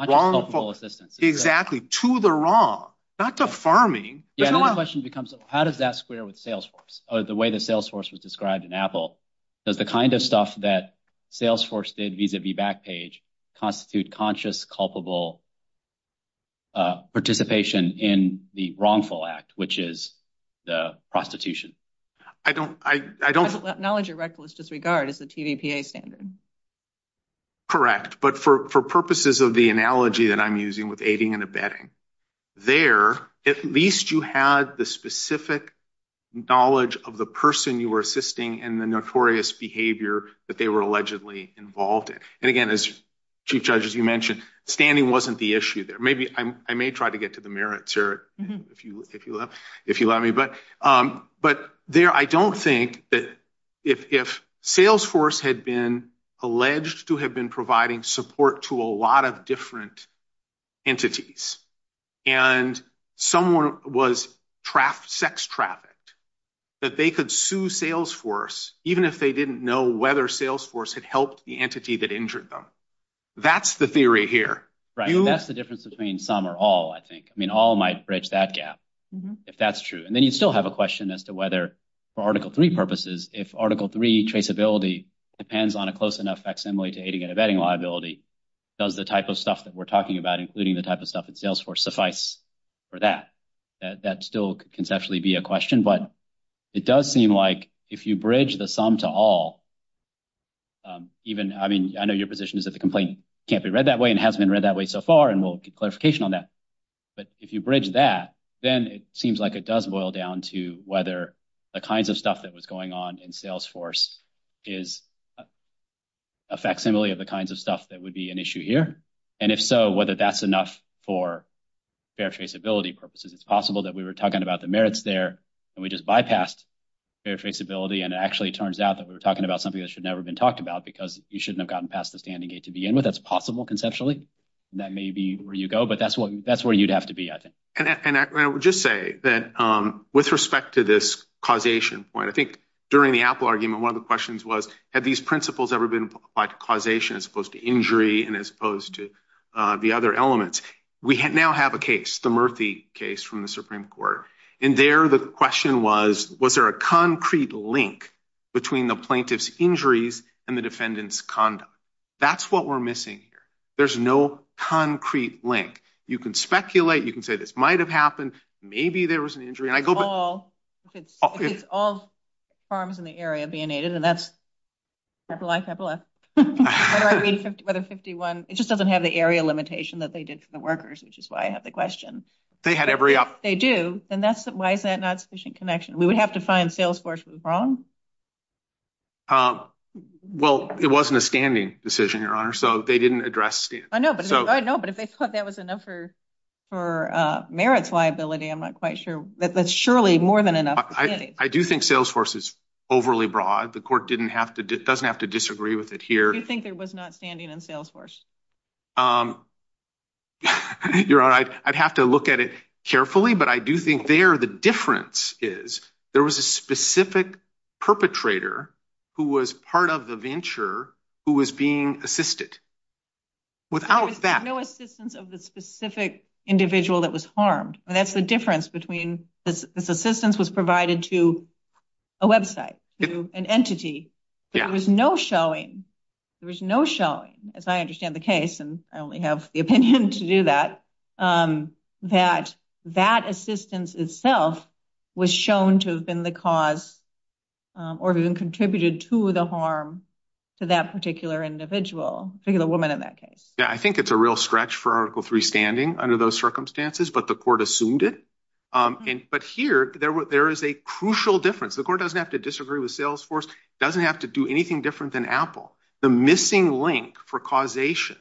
Exactly. To the wrong. Not to farming. How does that square with Salesforce or the way that Salesforce was described in Apple? Does the kind of stuff that Salesforce did vis-a-vis Backpage constitute conscious, culpable participation in the wrongful act, which is the prostitution? I don't. Knowledge of reckless disregard is the TVPA standard. Correct. But for purposes of the analogy that I'm using with aiding and abetting, there, at least you had the specific knowledge of the person you were assisting and the notorious behavior that they were allegedly involved in. And again, as Chief Judge, as you mentioned, standing wasn't the issue there. Maybe I may try to get to the merits here, if you let me. But there, I don't think that if Salesforce had been alleged to have been providing support to a lot of different entities, and someone was sex trafficked, that they could sue Salesforce, even if they didn't know whether Salesforce had helped the entity that injured them. That's the theory here. Right. And that's the difference between some or all, I think. I mean, all might bridge that gap, if that's true. And then you still have a question as to whether, for Article 3 purposes, if Article 3 traceability depends on a close enough facsimile to aiding and abetting liability, does the type of stuff that we're talking about, including the type of stuff in Salesforce, suffice for that? That still conceptually be a question. But it does seem like if you bridge the some to all, even, I mean, I know your position is that the complaint can't be read that way and hasn't been read that way so far. And we'll get clarification on that. But if you bridge that, then it seems like it does boil down to whether the kinds of stuff that was going on in Salesforce is a facsimile of the kinds of stuff that would be an issue here. And if so, whether that's enough for fair traceability purposes, it's possible that we were talking about the merits there and we just bypassed fair traceability. And it actually turns out that we were talking about something that should never have been talked about because you shouldn't have gotten past the standing gate to begin with. That's possible conceptually. And that may be where you go, but that's where you'd have to be, I think. And I would just say that with respect to this causation point, I think during the Apple argument, one of the questions was, had these principles ever been applied to causation as opposed to injury and as opposed to the other elements? We now have a case, the Murthy case from the Supreme Court. And there the question was, was there a concrete link between the plaintiff's injuries and the defendant's conduct? That's what we're missing here. There's no concrete link. You can speculate. You can say this might've happened. Maybe there was an injury. It's all farms in the area being aided. And that's what a 51, it just doesn't have the area limitation that they did for the workers, which is why I have the question. They had every option. They do. And that's why is that not sufficient connection? We would have to find sales force was wrong. Well, it wasn't a standing decision, Your Honor. So they didn't address it. No, but if they thought that was enough for merits liability, I'm not quite sure, but surely more than enough. I do think sales force is overly broad. The court doesn't have to disagree with it here. You think it was not standing in sales force? Your Honor, I'd have to look at it carefully, but I do think there the difference is there was a specific perpetrator who was part of the venture who was being assisted. Without that, no assistance of the specific individual that was harmed. And that's the difference between this assistance was provided to a website, an entity. There was no showing. There was no showing, as I understand the case, and I only have the opinion to do that, that that assistance itself was shown to have been the cause or even contributed to the harm to that particular individual. The woman in that case. Yeah, I think it's a real stretch for Article Three standing under those circumstances, but the court assumed it. But here there is a crucial difference. The court doesn't have to disagree with sales force, doesn't have to do anything different than Apple. The missing link for causation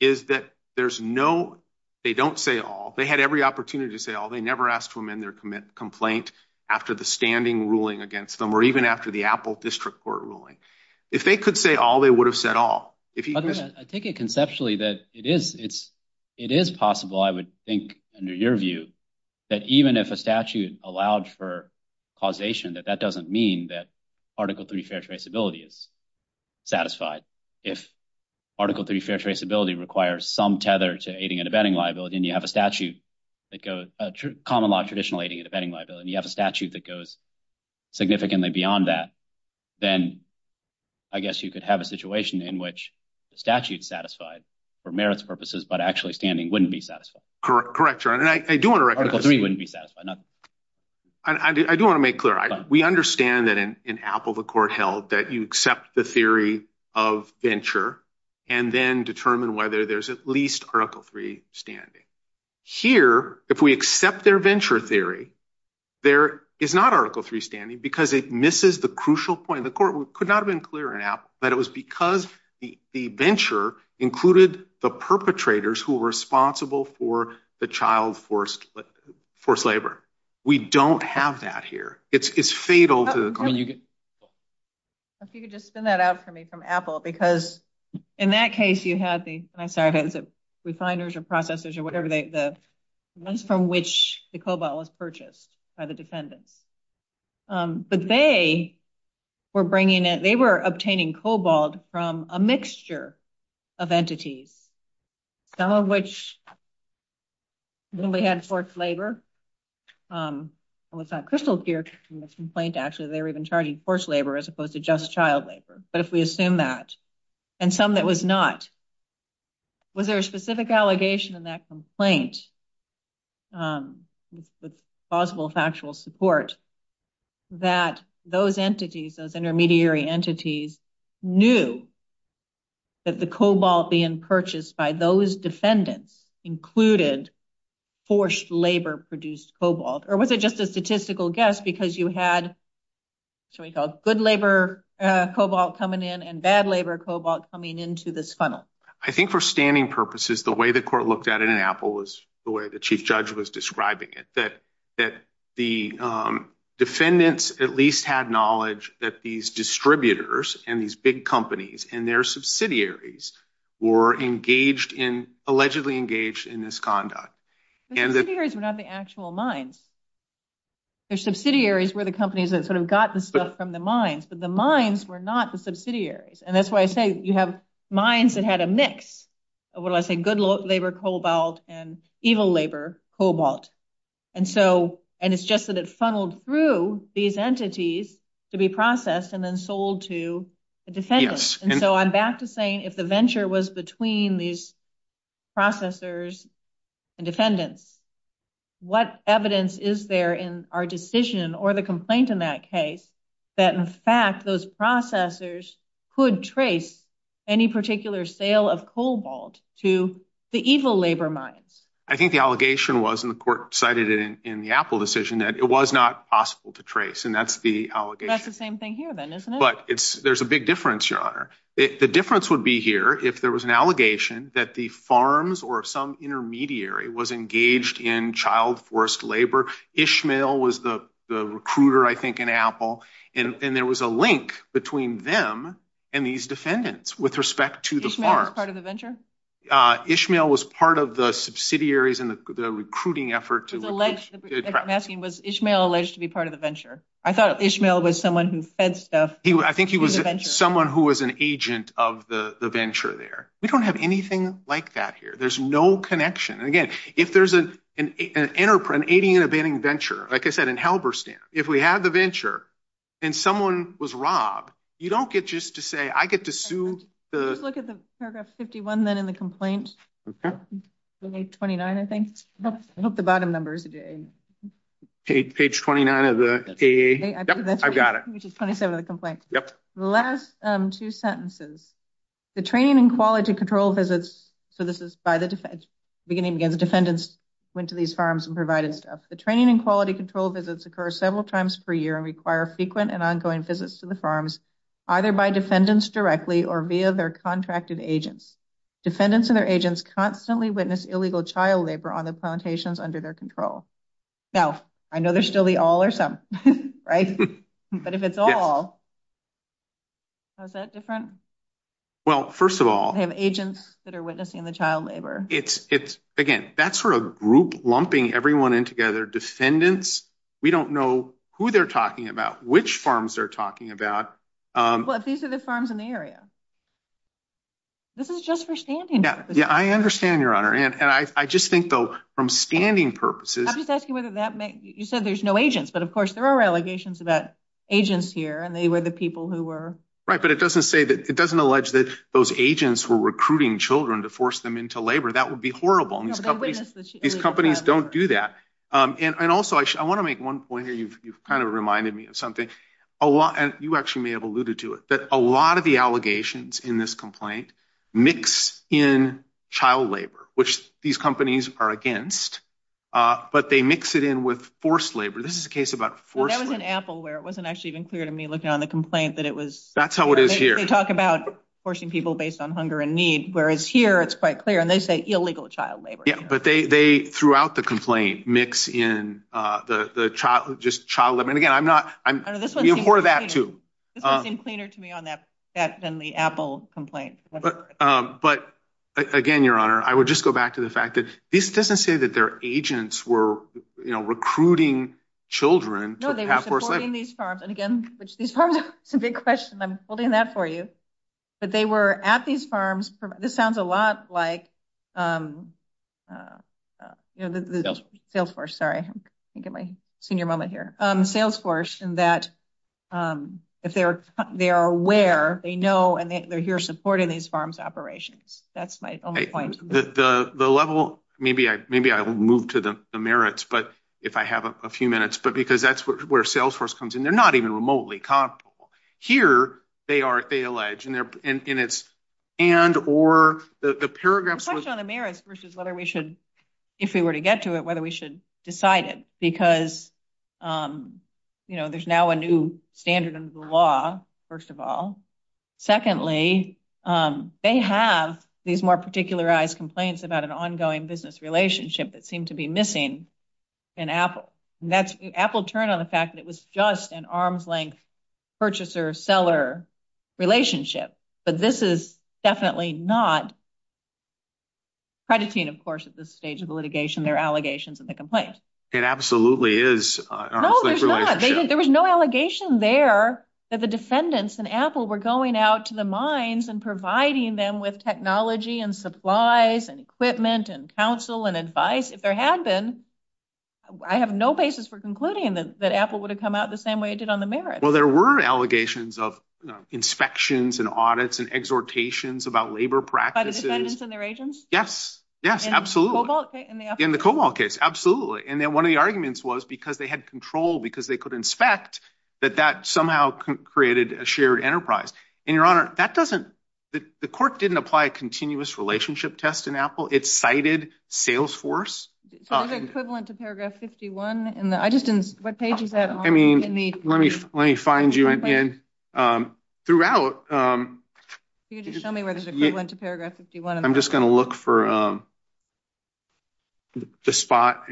is that there's no, they don't say all. They had every opportunity to say all. They never asked for them in their complaint after the standing ruling against them, or even after the Apple District Court ruling. If they could say all, they would have said all. I think it conceptually that it is possible, I would think under your view, that even if a statute allowed for causation, that that doesn't mean that Article Three fair traceability is satisfied. If Article Three fair traceability requires some tether to aiding and abetting liability, and you have a statute that goes, a common law traditional aiding and abetting liability, and you have a statute that goes significantly beyond that, then I guess you could have a statute satisfied for merits purposes, but actually standing wouldn't be satisfied. Correct, correct, John. And I do want to recognize- Article Three wouldn't be satisfied. I do want to make clear, we understand that in Apple the court held that you accept the theory of venture, and then determine whether there's at least Article Three standing. Here, if we accept their venture theory, there is not Article Three standing because it misses the crucial point. The court could not have been clearer in Apple, but it was because the venture included the perpetrators who were responsible for the child forced labor. We don't have that here. It's fatal to the court. If you could just send that out for me from Apple, because in that case you had the, I'm sorry, the refiners, or processors, or whatever, the funds from which the cobalt was purchased by the defendant. But they were bringing it, they were obtaining cobalt from a mixture of entities, some of which, when we had forced labor, almost got crystal clear from the complaint, actually, they were even charging forced labor as opposed to just child labor. But if we assume that, and some that was not, was there a specific allegation in that complaint with possible factual support, that those entities, those intermediary entities, knew that the cobalt being purchased by those defendants included forced labor produced cobalt? Or was it just a statistical guess because you had, shall we call it, good labor cobalt coming in and bad labor cobalt coming into this funnel? I think for standing purposes, the way the court looked at it in Apple was, you know, the way the chief judge was describing it, that the defendants at least had knowledge that these distributors and these big companies and their subsidiaries were engaged in, allegedly engaged in this conduct. The subsidiaries were not the actual mines. The subsidiaries were the companies that sort of got the stuff from the mines, but the mines were not the subsidiaries. And that's why I say you have mines that had a mix of, what did I say, good labor cobalt and evil labor cobalt. And so, and it's just that it funneled through these entities to be processed and then sold to a defendant. And so I'm back to saying if the venture was between these processors and defendants, what evidence is there in our decision or the complaint in that case, that in fact those processors could trace any particular sale of cobalt to the evil labor mines? I think the allegation was, and the court cited it in the Apple decision, that it was not possible to trace. And that's the allegation. That's the same thing here then, isn't it? But there's a big difference, Your Honor. The difference would be here if there was an allegation that the farms or some intermediary was engaged in child forced labor. Ishmael was the recruiter, I think, in Apple, and there was a link between them and these defendants with respect to the farm. Ishmael was part of the venture? Ishmael was part of the subsidiaries and the recruiting effort to- I'm asking, was Ishmael alleged to be part of the venture? I thought Ishmael was someone who fed stuff. I think he was someone who was an agent of the venture there. We don't have anything like that here. There's no connection. Again, if there's an 80 and abetting venture, like I said, in Halberstam, if we have a venture and someone was robbed, you don't get just to say, I get to sue the- Let's look at the paragraph 51 then in the complaint. Page 29, I think. I hope the bottom number is a J. Page 29 of the KAA. Yep, I've got it. Page 27 of the complaint. Yep. The last two sentences, the training and quality control visits, so this is by the defense, beginning to get the defendants went to these farms and provided stuff. The training and quality control visits occur several times per year and require frequent and ongoing visits to the farms, either by defendants directly or via their contracted agents. Defendants and their agents constantly witness illegal child labor on the plantations under their control. Now, I know there's still the all or some, right? But if it's all, how's that different? Well, first of all- We have agents that are witnessing the child labor. Again, that's for a group lumping everyone in together. Defendants, we don't know who they're talking about, which farms they're talking about. These are the farms in the area. This is just for standing purposes. Yeah, I understand, Your Honor. And I just think, though, from standing purposes- I'm just asking whether that makes- You said there's no agents, but of course there are allegations about agents here and they were the people who were- Right, but it doesn't say that- That would be horrible. These companies don't do that. And also, I want to make one point here. You've kind of reminded me of something. You actually may have alluded to it, that a lot of the allegations in this complaint mix in child labor, which these companies are against, but they mix it in with forced labor. This is a case about forced labor. That was in Apple where it wasn't actually even clear to me looking on the complaint that it was- That's how it is here. They talk about forcing people based on hunger and need, whereas here it's quite clear. They say illegal child labor. Yeah, but they, throughout the complaint, mix in just child labor. And again, I'm not- This one's even cleaner to me on that than the Apple complaint. But again, Your Honor, I would just go back to the fact that this doesn't say that their agents were recruiting children to have forced labor. No, they were supporting these farms. And again, which is a big question. I'm holding that for you. But they were at these farms. This sounds a lot like Salesforce. Sorry, I'm thinking of my senior moment here. Salesforce, in that they are aware, they know, and they're here supporting these farms operations. That's my only point. The level, maybe I'll move to the merits if I have a few minutes, but because that's where Salesforce comes in. They're not even remotely comfortable. Here, they are, they allege, and it's and, or, the paragraphs- The question on the merits versus whether we should, if we were to get to it, whether we should decide it. Because there's now a new standard under the law, first of all. Secondly, they have these more particularized complaints about an ongoing business relationship that seemed to be missing. And Apple, Apple turned on the fact that it was just an arm's length purchaser-seller relationship. But this is definitely not predicting, of course, at this stage of the litigation, their allegations and the complaints. It absolutely is an arm's length relationship. No, it's not. There was no allegation there that the defendants in Apple were going out to the mines and providing them with technology and supplies and equipment and counsel and advice. If there had been, I have no basis for concluding that Apple would have come out the same way it did on the merits. Well, there were allegations of inspections and audits and exhortations about labor practices. By the defendants and their agents? Yes. Yes, absolutely. In the Cobalt case? In the Cobalt case, absolutely. And then one of the arguments was because they had control, because they could inspect, that that somehow created a shared enterprise. And your honor, that doesn't, the court didn't apply continuous relationship tests in Apple. It cited Salesforce. Is it equivalent to paragraph 51 in the, I just didn't, what page is that on? I mean, let me find you in, throughout. Can you just show me where it's equivalent to paragraph 51? I'm just going to look for the spot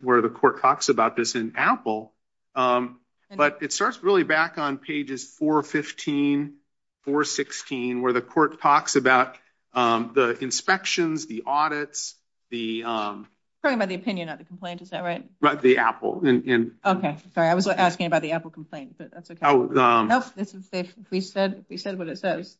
where the court talks about this in Apple. But it starts really back on pages 415, 416, where the court talks about the inspections, the audits, the. I'm talking about the opinion, not the complaint. Is that right? Right. The Apple. Okay. Sorry. I was asking about the Apple complaint, but that's okay. No, this is safe. We said, we said what it says.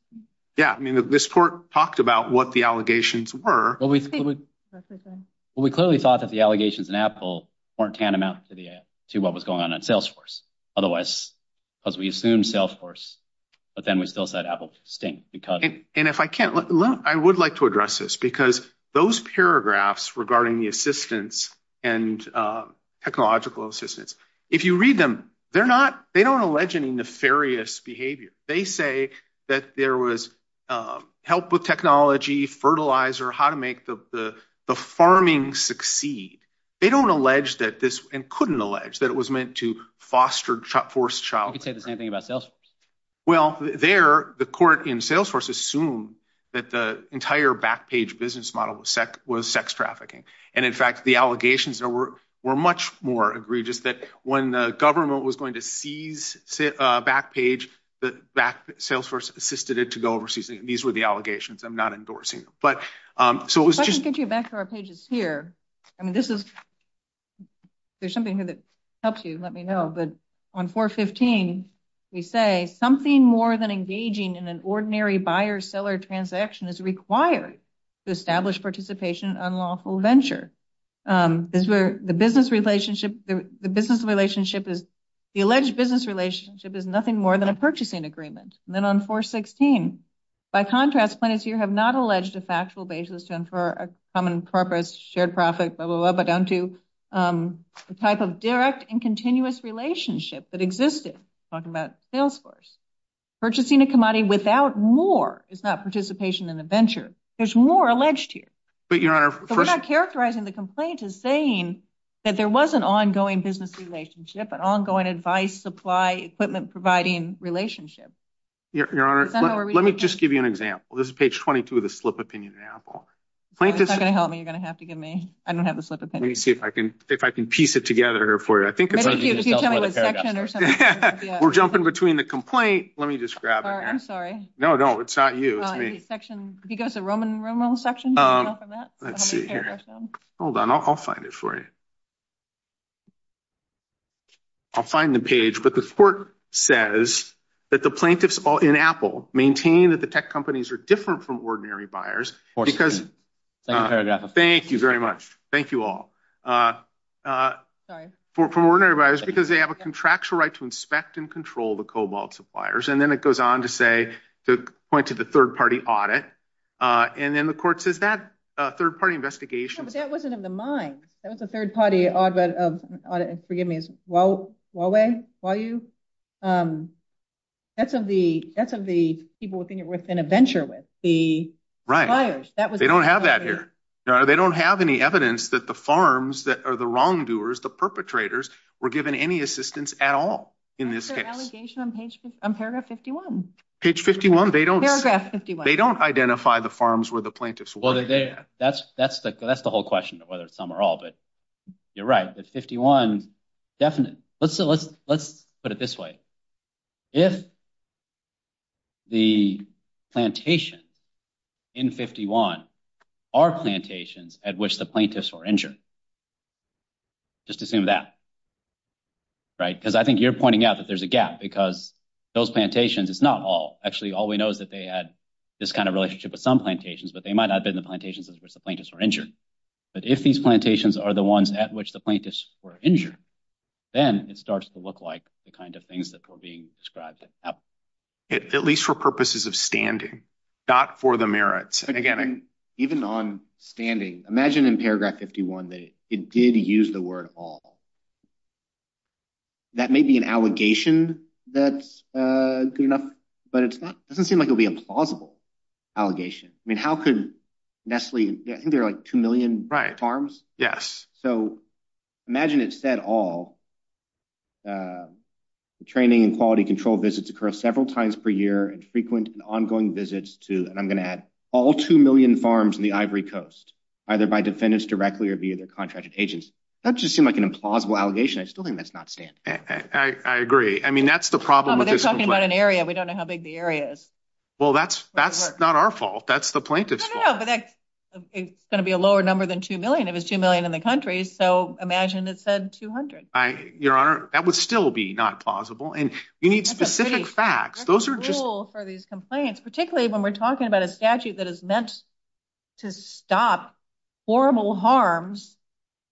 Yeah. I mean, this court talked about what the allegations were. Well, we clearly thought that the allegations in Apple weren't tantamount to the, to what was going on in Salesforce. Otherwise, because we assumed Salesforce, but then we still said Apple's distinct because. And if I can't, I would like to address this because those paragraphs regarding the assistance and technological assistance. If you read them, they're not, they don't allege any nefarious behavior. They say that there was help with technology, fertilizer, how to make the farming succeed. They don't allege that this and couldn't allege that it was meant to foster, force child. Well, there the court in Salesforce assume that the entire back page business model was sex trafficking. And in fact, the allegations that were, were much more egregious that when the government was going to seize a back page, the back Salesforce assisted it to go overseas. These were the allegations. I'm not endorsing them, but, um, so it was. Back to our pages here. I mean, this is, there's something that helps you. Let me know. But on four 15, we say something more than engaging in an ordinary buyer seller transaction is required to establish participation on lawful venture. Um, is where the business relationship, the business relationship is the alleged business relationship is nothing more than a purchasing agreement. And then on four 16, by contrast, you have not alleged a factual basis for a common purpose, shared profit, blah, blah, blah, but down to, um, the type of direct and continuous relationship that existed talking about Salesforce. Purchasing a commodity without more. It's not participation in the venture. There's more alleged here, but you're not characterizing the complaint is saying that there was an ongoing business relationship, an ongoing advice, supply equipment, providing relationship. Your honor, let me just give you an example. This is page 22 of the slip opinion. Example. It's not going to help me. You're going to have to give me, I don't have the slip of paper. Let me see if I can, if I can piece it together for you. I think we're jumping between the complaint. Let me just grab it. I'm sorry. No, no, it's not you section. If you guys are Roman section, hold on, I'll find it for you. I'll find the page, but the court says that the plaintiff's all in apple maintain that the tech companies are different from ordinary buyers because thank you very much. Thank you all, uh, uh, for, for ordinary buyers, because they have a contractual right to inspect and control the cobalt suppliers. And then it goes on to say, to point to the third party audit. Uh, and then the court says that a third party investigation, but that wasn't in the mind. That was the third party. I forgive me. It's well, while they, while you, um, that's of the, that's of the people within it, within a venture with the, they don't have that here. They don't have any evidence that the farms that are the wrongdoers, the perpetrators were given any assistance at all. In this case, they don't, they don't identify the farms where the plaintiff's that's, that's the whole question of whether it's some or all, but you're right. It's 51. Let's, let's, let's put it this way. If the plantation in 51 are plantations at which the plaintiffs were injured, just assume that, right. Cause I think you're pointing out that there's a gap because those plantations, it's not all actually, all we know is that they had this kind of relationship with some plantations, but they might not have been the plantations where the plaintiffs were injured. But if these plantations are the ones at which the plaintiffs were injured, then it starts to look like the kind of things that are being described at least for purposes of standing dot for the merits. And again, even on standing, imagine in paragraph 51, that it did use the word all that may be an allegation. That's a good enough, but it's not, it doesn't seem like it'll be a plausible allegation. I mean, how could Nestle, I think there are like 2 million farms. Yes. So imagine it said all the training and quality control visits occur several times per year and frequent and ongoing visits to, and I'm going to add all 2 million farms in the ivory coast, either by defendants directly or via their contracted agents. That just seemed like an implausible allegation. I still think that's not standing. I agree. I mean, that's the problem. They're talking about an area. We don't know how big the area is. Well, that's, that's not our fault. That's the plaintiff's going to be a lower number than 2 million. It was 2 million in the country. So imagine it said 200, your honor, that would still be not plausible. And you need specific facts. Those are just for these complaints, particularly when we're talking about a statute that is meant to stop horrible harms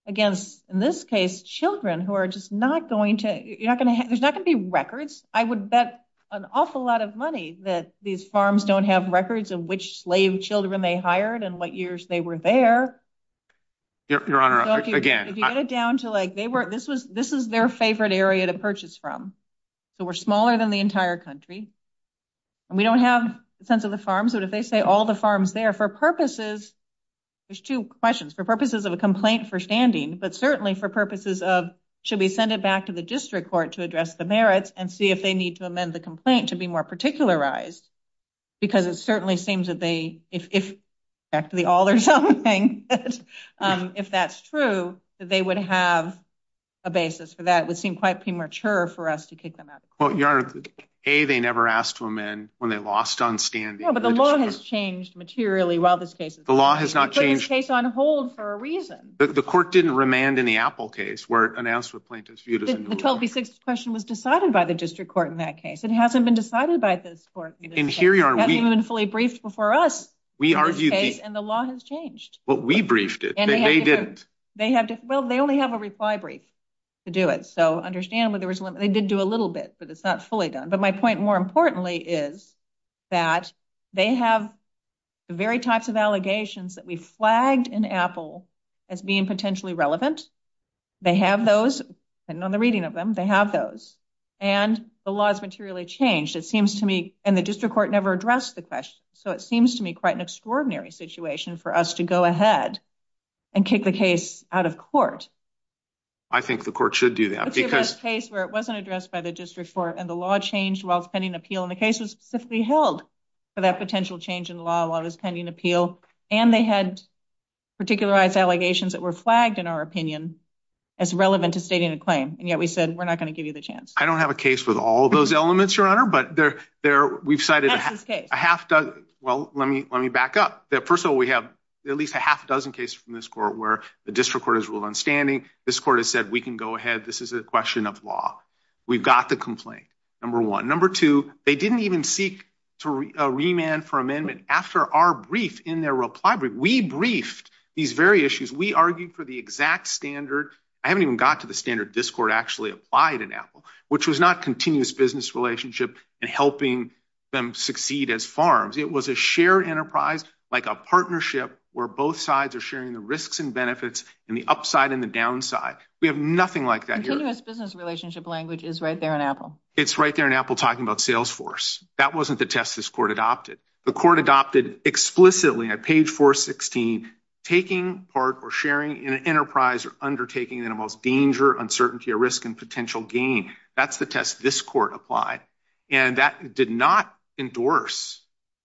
against, in this case, children who are just not going to, you're not going to, there's not going to be records. I would bet an awful lot of money that these farms don't have records of which slave children they hired and what years they were there. Your honor, again, If you go down to like, they weren't, this was, this was their favorite area to purchase from. So we're smaller than the entire country and we don't have a sense of the farms, but if they say all the farms there for purposes, there's 2 questions for purposes of a complaint for standing, but certainly for purposes of should we send it back to the district court to address the merits and see if they need to amend the complaint to be more particularized because it certainly seems that they, if, if actually all or something, if that's true, that they would have a basis for that. It would seem quite premature for us to kick them out. Well, your honor, A, they never asked to amend when they lost on standing. Yeah, but the law has changed materially while this case is on hold. The law has not changed. The case is on hold for a reason. The court didn't remand in the Apple case where an ass with plaintiff's view doesn't question was decided by the district court. In that case, it hasn't been decided by the court fully briefed before us. We argued and the law has changed what we briefed it. They have, well, they only have a reply brief to do it. So understand where there was one. They did do a little bit, but it's not fully done. But my point more importantly is that they have the very types of allegations that we flagged an Apple as being potentially relevant. They have those and on the reading of them, they have those. And the law is materially changed. It seems to me and the district court never addressed the question. So it seems to me quite an extraordinary situation for us to go ahead and kick the case out of court. I think the court should do that. It's a case where it wasn't addressed by the district court and the law changed while it's pending appeal. And the case was held for that potential change in law while it was pending appeal. And they had particularized allegations that were flagged, in our opinion, as relevant to stating a claim. And yet we said, we're not going to give you the chance. I don't have a case with all of those elements, your honor. But we've cited a half dozen. Well, let me back up. First of all, we have at least a half dozen cases from this court where the district court has ruled on standing. This court has said, we can go ahead. This is a question of law. We've got the complaint, number one. Number two, they didn't even seek to remand for amendment after our brief in their reply brief. We briefed these very issues. We argued for the exact standard. I haven't even got to the standard this court actually applied in Apple, which was not continuous business relationship and helping them succeed as farms. It was a shared enterprise, like a partnership where both sides are sharing the risks and benefits and the upside and the downside. We have nothing like that here. Continuous business relationship language is right there in Apple. It's right there in Apple talking about Salesforce. That wasn't the test this court adopted. The court adopted explicitly on page 416, taking part or sharing in an enterprise or undertaking that involves danger, uncertainty, or risk and potential gain. That's the test this court applied. And that did not endorse.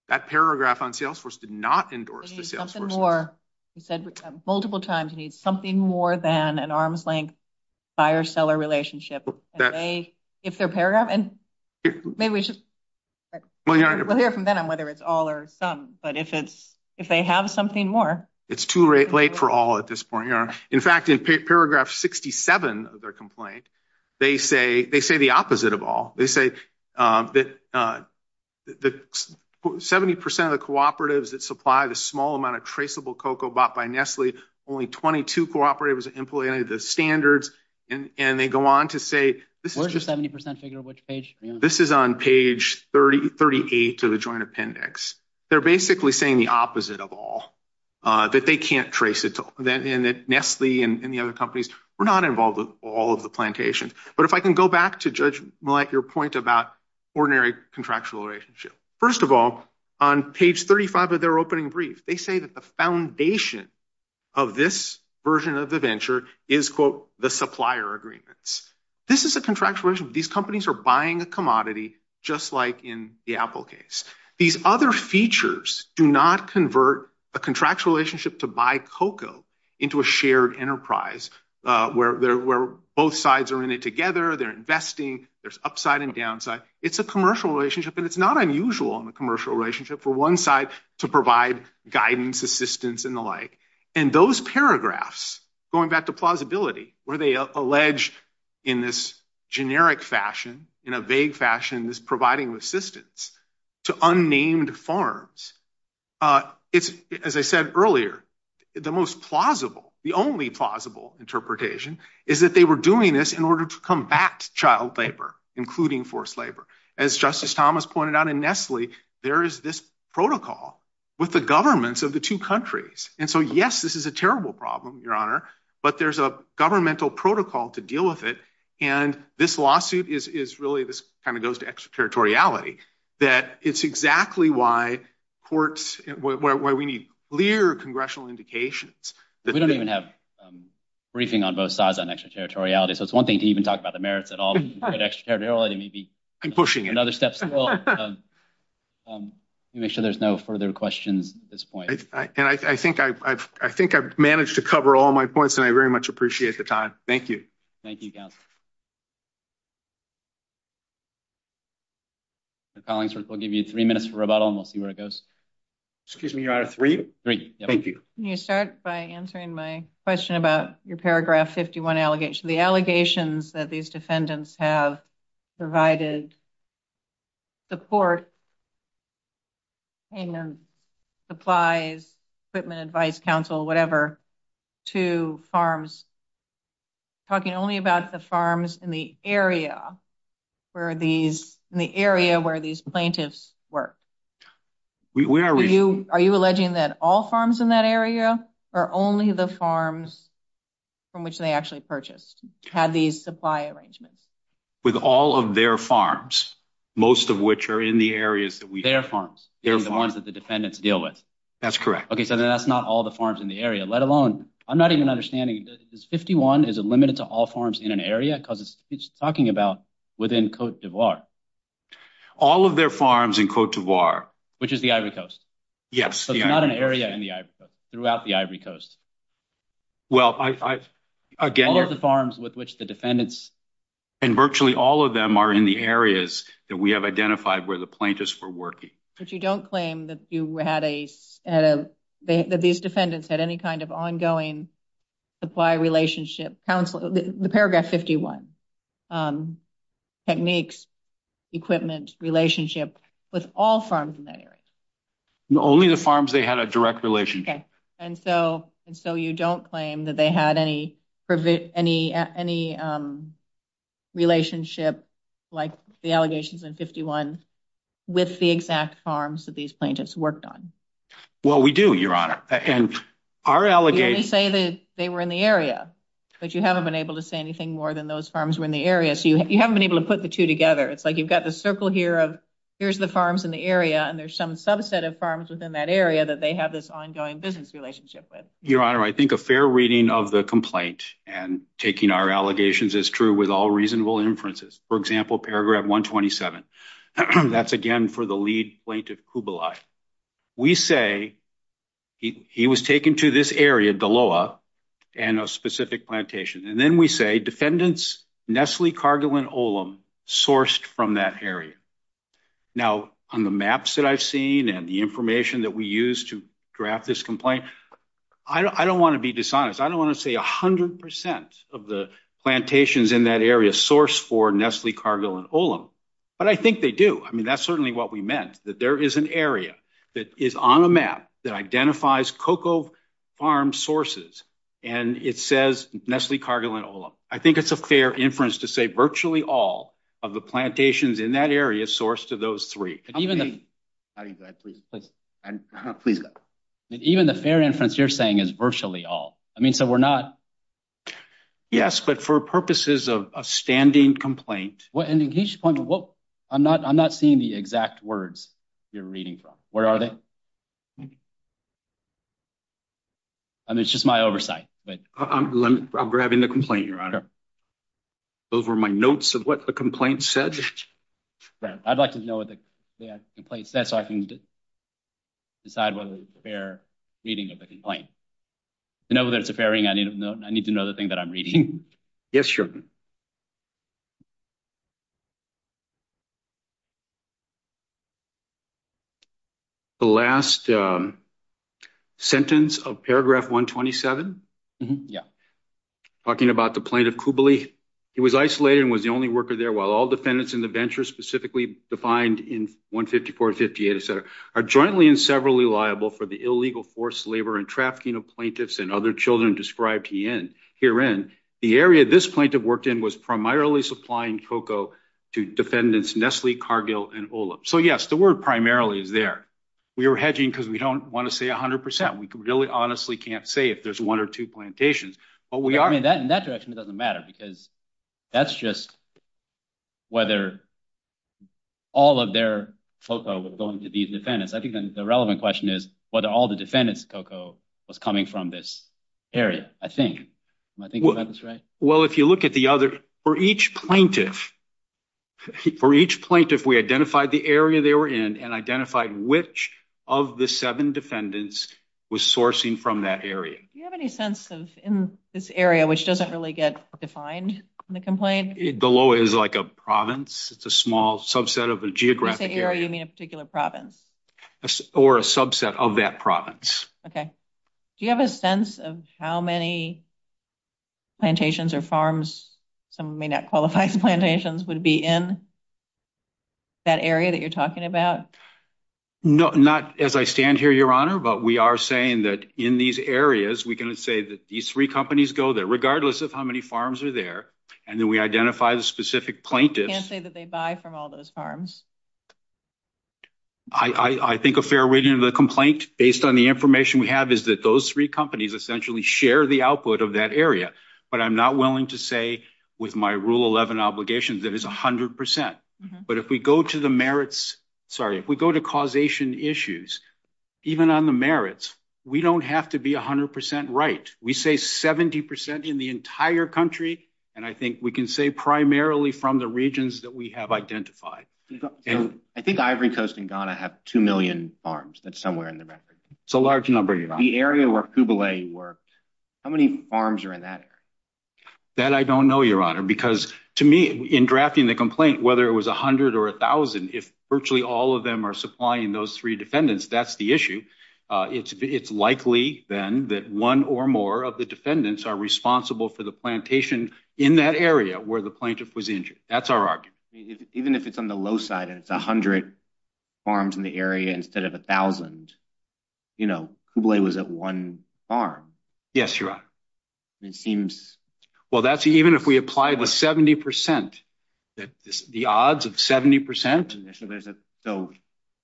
That paragraph on Salesforce did not endorse. We need something more. We said multiple times, we need something more than an arm's length buyer-seller relationship. If they're paragraph and maybe we should hear from Ben on whether it's all or some, but if they have something more. It's too late for all at this point. In fact, in paragraph 67 of their complaint, they say the opposite of all. They say that 70% of the cooperatives that supply the small amount of traceable cocoa bought by Nestle, only 22 cooperatives employed the standards. And they go on to say, this is on page 30, 38 to the joint appendix. They're basically saying the opposite of all. That they can't trace it to Nestle and the other companies. We're not involved with all of the plantations. But if I can go back to judge your point about ordinary contractual relationship. First of all, on page 35 of their opening brief, they say that the foundation of this version of the venture is, quote, the supplier agreements. This is a contractual relationship. These companies are buying a commodity, just like in the Apple case. These other features do not convert a contractual relationship to buy cocoa into a shared enterprise where both sides are in it together. They're investing. There's upside and downside. It's a commercial relationship. And it's not unusual in a commercial relationship for one side to provide guidance, assistance, and the like. And those paragraphs, going back to plausibility, where they allege in this generic fashion, in a vague fashion, this providing assistance to unnamed farms, as I said earlier, the most plausible, the only plausible interpretation is that they were doing this in order to combat child labor, including forced labor. As Justice Thomas pointed out in Nestle, there is this protocol with the governments of the two countries. And so, yes, this is a terrible problem, Your Honor, but there's a governmental protocol to deal with it. And this lawsuit is really, this kind of goes to extraterritoriality, that it's exactly why courts, where we need clear congressional indications. We don't even have a briefing on both sides on extraterritoriality. So it's one thing to even talk about the merits at all, but extraterritoriality may be another step in the road. I'm pushing it. Make sure there's no further questions at this point. And I think I've managed to cover all my points, and I very much appreciate the time. Thank you. Thank you, Gav. The following will give you three minutes for rebuttal, and we'll see where it goes. Excuse me, Your Honor, three? Three, yep. Thank you. Can you start by answering my question about your paragraph 51 allegation? The allegations that these defendants have provided support and supplies, equipment, advice, counsel, whatever, to farms, talking only about the farms in the area where these plaintiffs were. Are you alleging that all farms in that area are only the farms from which they actually purchased, have these supply arrangements? With all of their farms, most of which are in the areas that we- Their farms. Their farms that the defendants deal with. That's correct. Okay, so that's not all the farms in the area, let alone, I'm not even understanding, this 51, is it limited to all farms in an area? Because it's talking about within Cote d'Ivoire. All of their farms in Cote d'Ivoire- Which is the Ivory Coast. Yes. So it's not an area in the Ivory Coast, throughout the Ivory Coast. Well, I, again- All of the farms with which the defendants- And virtually all of them are in the areas that we have identified where the plaintiffs were working. But you don't claim that you had a, that these defendants had any kind of ongoing supply relationship, counsel, the paragraph 51, techniques, equipment, relationship with all farms in that area? Only the farms they had a direct relationship. And so you don't claim that they had any relationship, like the allegations in 51, with the exact farms that these plaintiffs worked on? Well, we do, Your Honor. And our allegation- We only say that they were in the area, but you haven't been able to say anything more than those farms were in the area. So you haven't been able to put the two together. It's like you've got the circle here of, here's the farms in the area, and there's some subset of farms within that area that they have this ongoing business relationship with. Your Honor, I think a fair reading of the complaint and taking our allegations is true with all reasonable inferences. For example, paragraph 127. That's, again, for the lead plaintiff, Kubalai. We say he was taken to this area, Daloa, and a specific plantation. And then we say defendants Nestle, Cargill, and Olam sourced from that area. Now, on the maps that I've seen and the information that we use to draft this complaint, I don't want to be dishonest. I don't want to say 100% of the plantations in that area sourced for Nestle, Cargill, and Olam. But I think they do. I mean, that's certainly what we meant, that there is an area that is on a map that identifies cocoa farm sources, and it says Nestle, Cargill, and Olam. I think it's a fair inference to say virtually all of the plantations in that area sourced to those three. Even the fair inference you're saying is virtually all. I mean, so we're not... Yes, but for purposes of a standing complaint... I'm not seeing the exact words you're reading from. Where are they? I mean, it's just my oversight. I'm grabbing the complaint, Your Honor. Those were my notes of what the complaint said. Right. I'd like to know what the complaint says so I can decide whether it's a fair reading of the To know whether it's a fair reading, I need to know the thing that I'm reading. Yes, sure. The last sentence of Paragraph 127, talking about the plaintiff Cooberley, he was isolated and was the only worker there, while all defendants in the venture specifically defined in 154, 158, et cetera, are jointly and severally liable for the illegal forced labor and trafficking of plaintiffs and other children described herein. The area this plaintiff works in is not the area that I'm referring to, but the area that was primarily supplying cocoa to defendants Nestle, Cargill, and Olam. So, yes, the word primarily is there. We were hedging because we don't want to say 100%. We really honestly can't say if there's one or two plantations, but we are... I mean, in that direction, it doesn't matter because that's just whether all of their cocoa was going to these defendants. I think then the relevant question is whether all the defendants' cocoa was coming from this area, I think. I think that's right. Well, if you look at the other... For each plaintiff, we identified the area they were in and identified which of the seven defendants was sourcing from that area. Do you have any sense of in this area, which doesn't really get defined in the complaint? Below it is like a province. It's a small subset of a geographic area. By area, you mean a particular province? Or a subset of that province. Okay. Do you have a sense of how many plantations or farms, some may not qualify as plantations, would be in that area that you're talking about? No, not as I stand here, Your Honor, but we are saying that in these areas, we can say that these three companies go there, regardless of how many farms are there. And then we identify the specific plaintiffs. You can't say that they buy from all those farms. I think a fair way to the complaint, based on the information we have, is that those three companies essentially share the output of that area. But I'm not willing to say, with my Rule 11 obligations, that it's 100%. But if we go to the merits... Sorry, if we go to causation issues, even on the merits, we don't have to be 100% right. We say 70% in the entire country. And I think we can say primarily from the regions that we have identified. I think Ivory Coast and Ghana have 2 million farms. That's somewhere in the record. It's a large number, Your Honor. The area where Kubele worked, how many farms are in that area? That I don't know, Your Honor, because to me, in drafting the complaint, whether it was 100 or 1,000, if virtually all of them are supplying those three defendants, that's the issue. It's likely, then, that one or more of the defendants are responsible for the plantation in that area where the plaintiff was injured. That's our argument. Even if it's on the low side and it's 100 farms in the area instead of 1,000, you know, Kubele was at one farm. Yes, Your Honor. It seems... Well, even if we apply the 70%, the odds of 70%... So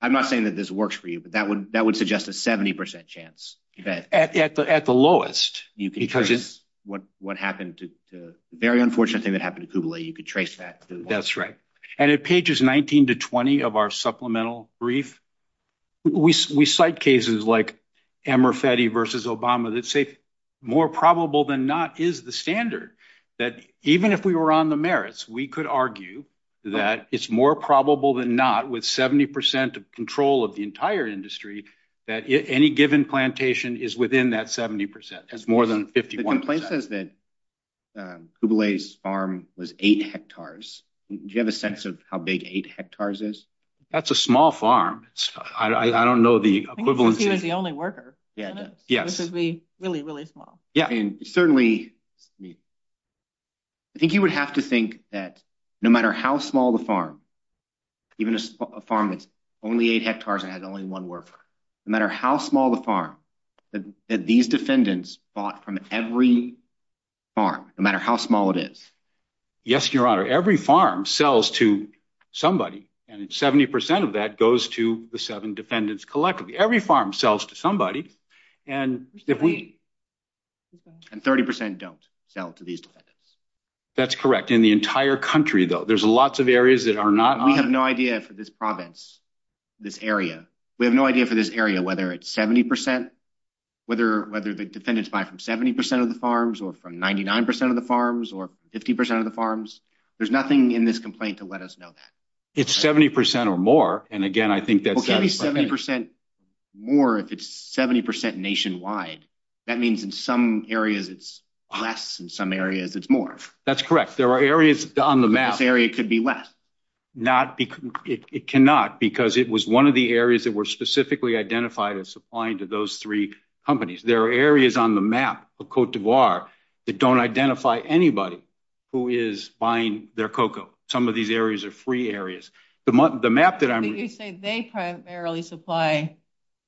I'm not saying that this works for you, but that would suggest a 70% chance. At the lowest. You can trace what happened to... The very unfortunate thing that happened to Kubele, you could trace that. That's right. And at pages 19 to 20 of our supplemental brief, we cite cases like Amerfeti versus Obama that say more probable than not is the standard, that even if we were on the merits, we could argue that it's more probable than not, with 70% of control of the entire industry, that any given plantation is within that 70%. That's more than 51%. The complaint says that Kubele's farm was eight hectares. Do you have a sense of how big eight hectares is? That's a small farm. I don't know the equivalent... He was the only worker, wasn't he? Yes. Which is really, really small. Yeah, and certainly... I think you would have to think that no matter how small the farm, even a farm that's only eight hectares and has only one worker, no matter how small the farm, that these defendants bought from every farm, no matter how small it is. Yes, Your Honor. Every farm sells to somebody, and 70% of that goes to the seven defendants collectively. Every farm sells to somebody, and if we... And 30% don't sell to these defendants. That's correct. In the entire country, though, there's lots of areas that are not on... We have no idea for this province, this area. We have no idea for this area, whether it's 70%, whether the defendants buy from 70% of the farms, or from 99% of the farms, or 50% of the farms. There's nothing in this complaint to let us know that. It's 70% or more, and again, I think that... Well, can it be 70% more if it's 70% nationwide? That means in some areas it's less, in some areas it's more. That's correct. There are areas on the map... This area could be less. Not because... It cannot, because it was one of the areas that were specifically identified as supplying to those three companies. There are areas on the map, Cote d'Ivoire, that don't identify anybody who is buying their cocoa. Some of these areas are free areas. The map that I'm... You say they primarily supply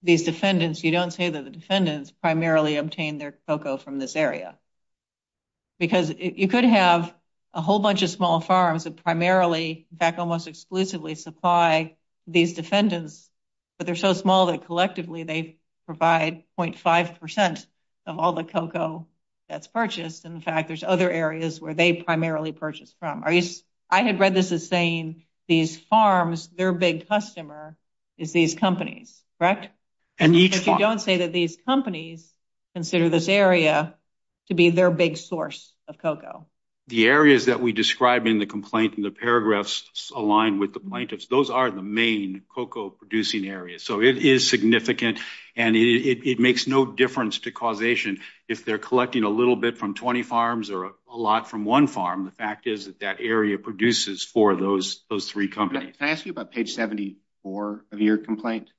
these defendants. You don't say that the defendants primarily obtain their cocoa from this area, because you could have a whole bunch of small farms that primarily, in fact, almost exclusively supply these defendants, but they're so small that collectively they provide 0.5% of all the cocoa that's purchased. In fact, there's other areas where they primarily purchase from. I had read this as saying these farms, their big customer is these companies, correct? Indeed. This area could be their big source of cocoa. The areas that we described in the complaint in the paragraphs align with the blankets. Those are the main cocoa producing areas. It is significant, and it makes no difference to causation if they're collecting a little bit from 20 farms or a lot from one farm. The fact is that that area produces for those three companies. Can I ask you about page 74 of your complaint?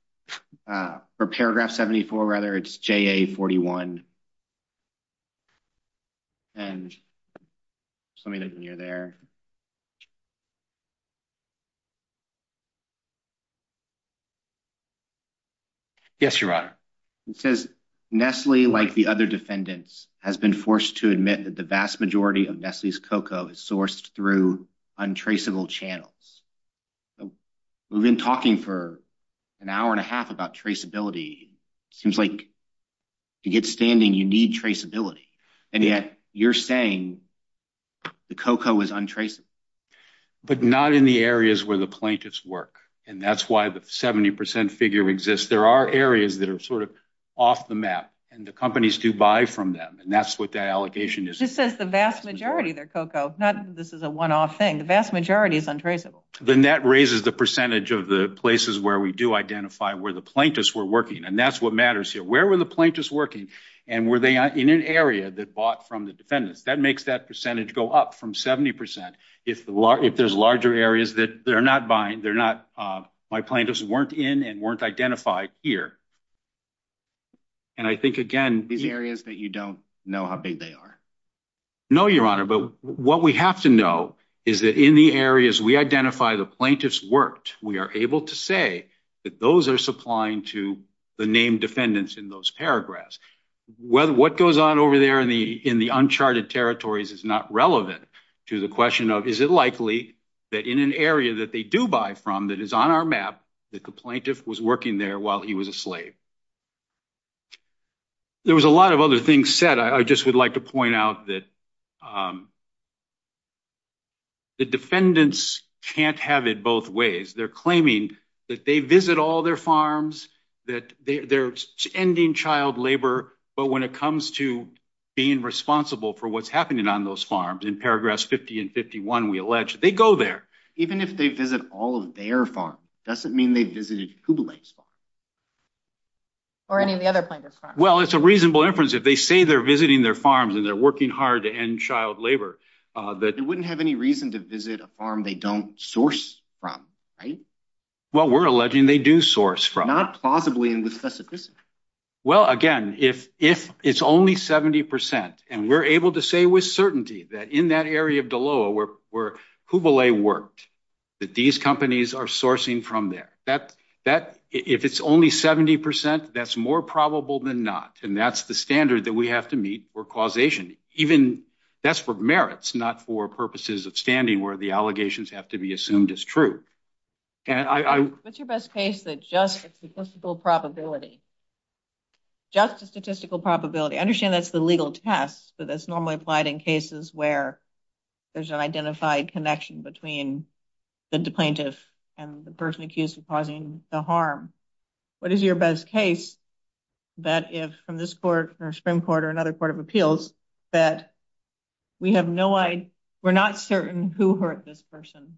For paragraph 74, rather, it's JA-41, and let me know when you're there. Yes, Your Honor. It says, Nestle, like the other defendants, has been forced to admit that the vast majority of Nestle's cocoa is sourced through untraceable channels. So we've been talking for an hour and a half about traceability. Seems like to get standing, you need traceability, and yet you're saying the cocoa is untraceable. But not in the areas where the plaintiffs work, and that's why the 70% figure exists. There are areas that are sort of off the map, and the companies do buy from them, and that's what the allegation is. It says the vast majority of their cocoa. Not that this is a one-off thing. The vast majority is untraceable. The net raises the percentage of the places where we do identify where the plaintiffs were working, and that's what matters here. Where were the plaintiffs working, and were they in an area that bought from the defendant? That makes that percentage go up from 70% if there's larger areas that they're not buying. My plaintiffs weren't in and weren't identified here. And I think, again, the areas that you don't know how big they are. No, Your Honor, but what we have to know is that in the areas we identify the plaintiffs worked, we are able to say that those are supplying to the named defendants in those paragraphs. What goes on over there in the uncharted territories is not relevant to the question of is it likely that in an area that they do buy from that is on our map that the plaintiff was working there while he was a slave. There was a lot of other things said. I just would like to point out that the defendants can't have it both ways. They're claiming that they visit all their farms, that they're ending child labor, but when it comes to being responsible for what's happening on those farms, in paragraphs 50 and 51, we allege they go there. Even if they visit all of their farms, it doesn't mean they visited Kublai's farm. Or any of the other plaintiffs' farms. It's a reasonable inference. If they say they're visiting their farms and they're working hard to end child labor, they wouldn't have any reason to visit a farm they don't source from, right? Well, we're alleging they do source from. Not plausibly in the specificity. Well, again, if it's only 70%, and we're able to say with certainty that in that area of Doloa where Kublai worked, that these companies are sourcing from there. If it's only 70%, that's more probable than not, and that's the standard that we have to meet for causation. Even that's for merits, not for purposes of standing where the allegations have to be assumed as true. What's your best case that's just a statistical probability? Just a statistical probability. I understand that's the legal test, but that's normally applied in cases where there's an accused causing the harm. What is your best case that if from this court or Supreme Court or another court of appeals that we're not certain who hurt this person,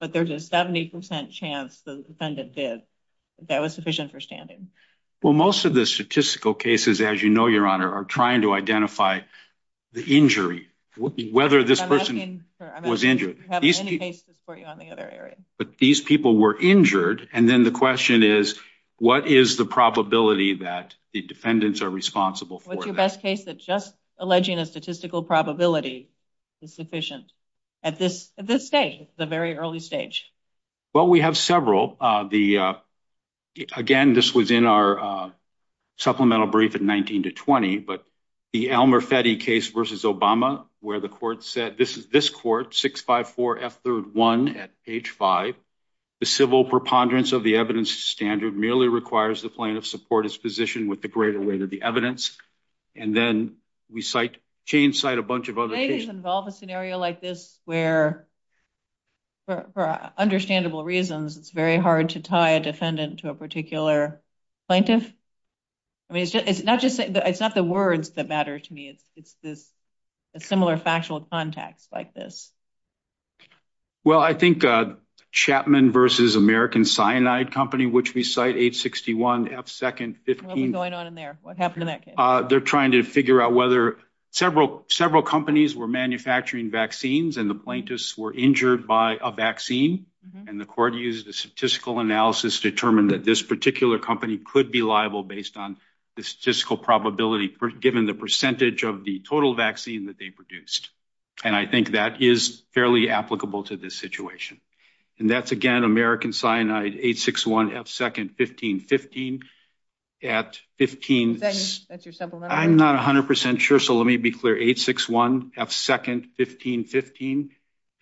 but there's a 70% chance the defendant did, that was sufficient for standing? Well, most of the statistical cases, as you know, Your Honor, are trying to identify the injury, whether this person was injured. I'm not going to have any cases for you on the other area. But these people were injured, and then the question is, what is the probability that the defendants are responsible for that? What's your best case that just alleging a statistical probability is sufficient at this stage, the very early stage? Well, we have several. Again, this was in our supplemental brief in 19 to 20, but the Elmer Fetty case versus Obama, where the court said, this is this court 654 F31 at H5, the civil preponderance of the evidence standard merely requires the plaintiff's support his position with the greater weight of the evidence. And then we change site a bunch of other cases. Do plaintiffs involve a scenario like this where, for understandable reasons, it's very hard to tie a defendant to a particular plaintiff? I mean, it's not the words that matter to me. It's a similar factual context like this. Well, I think Chapman versus American Cyanide Company, which we cite 861 F2, 15- What was going on in there? What happened in that case? They're trying to figure out whether several companies were manufacturing vaccines, and the plaintiffs were injured by a vaccine. And the court used a statistical analysis to determine that this particular company could be liable based on the statistical probability, given the percentage of the total vaccine that they produced. And I think that is fairly applicable to this situation. And that's, again, American Cyanide 861 F2, 15- That's your sample number? I'm not 100% sure, so let me be clear. 861 F2, 15-15,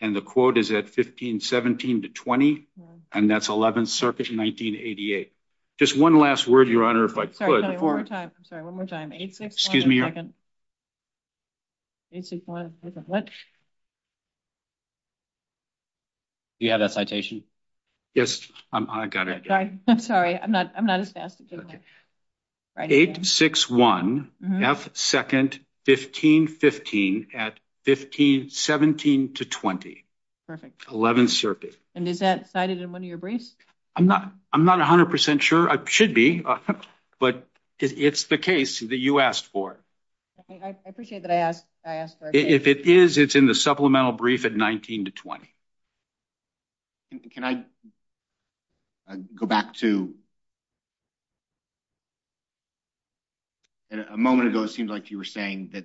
and the quote is at 15-17 to 20, and that's 11th Circuit in 1988. Just one last word, Your Honor, if I could- Sorry, one more time. I'm sorry. One more time. 861- Excuse me, Your Honor. 861- What? Do you have that citation? Yes, I got it. Sorry, I'm not as fast as you are. 861 F2, 15-15, at 15-17 to 20. Perfect. 11th Circuit. And is that cited in one of your briefs? I'm not 100% sure. I should be, but it's the case that you asked for. I appreciate that I asked for it. If it is, it's in the supplemental brief at 19-20. Can I go back to- A moment ago it seemed like you were saying that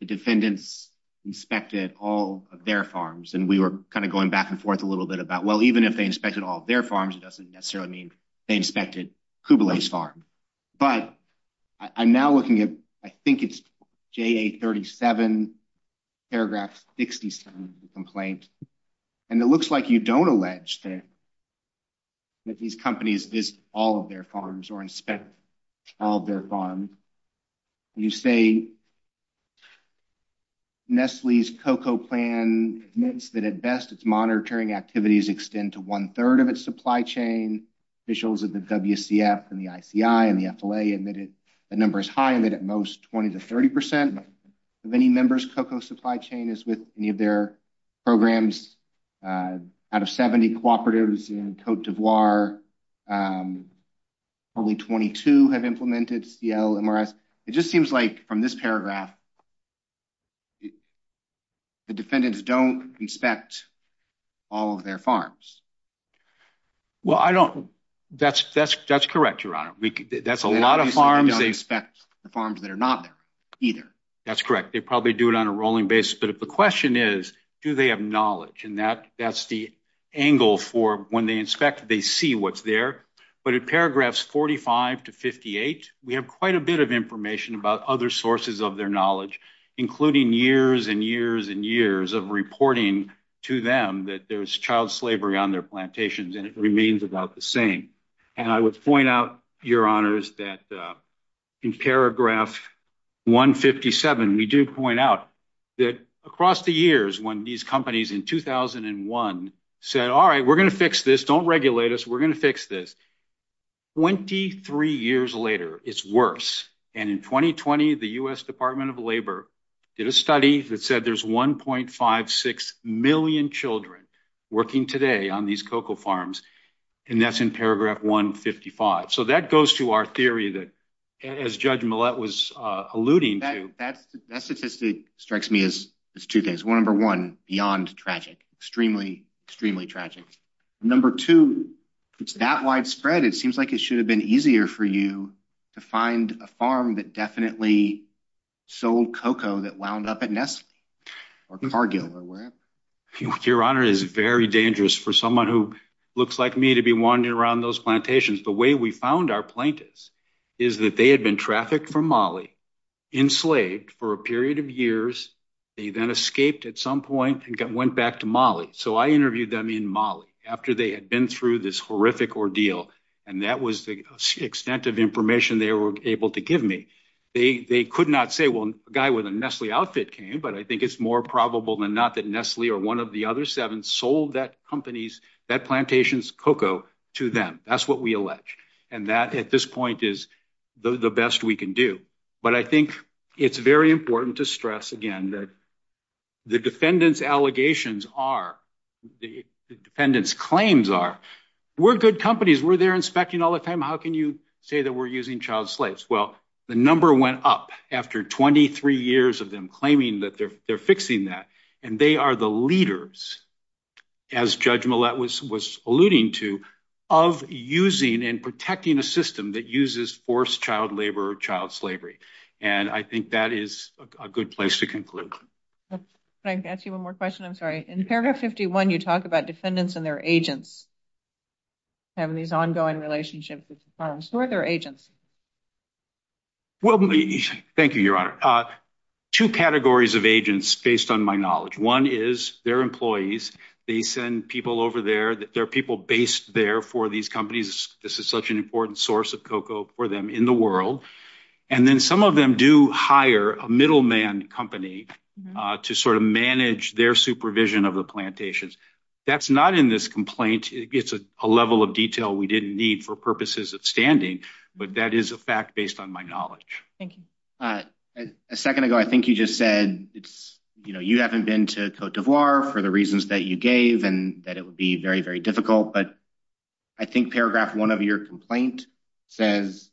the defendants inspected all of their farms, and we were kind of going back and forth a little bit about, well, even if they inspected all of their farms, it doesn't necessarily mean they inspected Kublai's farm. But I'm now looking at, I think it's JA-37, paragraph 67 of the complaint, and it looks like you don't allege that these companies visit all of their farms or inspect all of their farms. You say Nestle's COCO plan admits that at best its monitoring activities extend to one-third of its supply chain. Officials of the WCF and the ICI and the FLA admitted the number is high, but at most 20-30% of any member's COCO supply chain is with any of their programs. Out of 70 cooperatives in Cote d'Ivoire, only 22 have implemented CLMRS. It just seems like from this paragraph, the defendants don't inspect all of their farms. Well, that's correct, Your Honor. That's a lot of farms. They don't inspect the farms that are not there either. That's correct. They probably do it on a rolling basis. But if the question is, do they have knowledge? And that's the angle for when they inspect, they see what's there. But in paragraphs 45 to 58, we have quite a bit of information about other sources of their knowledge, including years and years and years of reporting to them that there's child slavery on their plantations, and it remains about the same. And I would point out, Your Honors, that in paragraph 157, we do point out that across the years when these companies in 2001 said, all right, we're going to fix this. Don't regulate us. We're going to fix this. 23 years later, it's worse. And in 2020, the U.S. Department of Labor did a study that said there's 1.56 million children working today on these cocoa farms, and that's in paragraph 155. So that goes to our theory that, as Judge Millett was alluding to. That statistic strikes me as two things. One, number one, beyond tragic, extremely, extremely tragic. Number two, it's that widespread, it seems like it should have been easier for you to find a farm that definitely sold cocoa that wound up at Nesla or Fargo or wherever. Your Honor, it is very dangerous for someone who looks like me to be wandering around those plantations. The way we found our plaintiffs is that they had been trafficked from Mali, enslaved for a period of years. They then escaped at some point and went back to Mali. So I interviewed them in Mali after they had been through this horrific ordeal. And that was the extent of information they were able to give me. They could not say, well, a guy with a Nestle outfit came, but I think it's more probable than not that Nestle or one of the other seven sold that company's, that plantation's cocoa to them. That's what we allege. And that, at this point, is the best we can do. But I think it's very important to stress again that the defendant's allegations are, the defendant's claims are, we're good companies. We're there inspecting all the time. How can you say that we're using child slaves? Well, the number went up after 23 years of them claiming that they're fixing that. And they are the leaders, as Judge Millett was alluding to, of using and protecting a system that uses forced child labor or child slavery. And I think that is a good place to conclude. Can I ask you one more question? I'm sorry. In paragraph 51, you talk about defendants and their agents having these ongoing relationships with the plantation. Who are their agents? Well, thank you, Your Honor. Two categories of agents, based on my knowledge. One is their employees. They send people over there. There are people based there for these companies. This is such an important source of cocoa for them in the world. And then some of them do hire a middleman company to sort of manage their supervision of the plantations. That's not in this complaint. It's a level of detail we didn't need for purposes of standing. But that is a fact based on my knowledge. Thank you. A second ago, I think you just said, you haven't been to Cote d'Ivoire for the reasons that you gave and that it would be very, very difficult. But I think paragraph one of your complaint says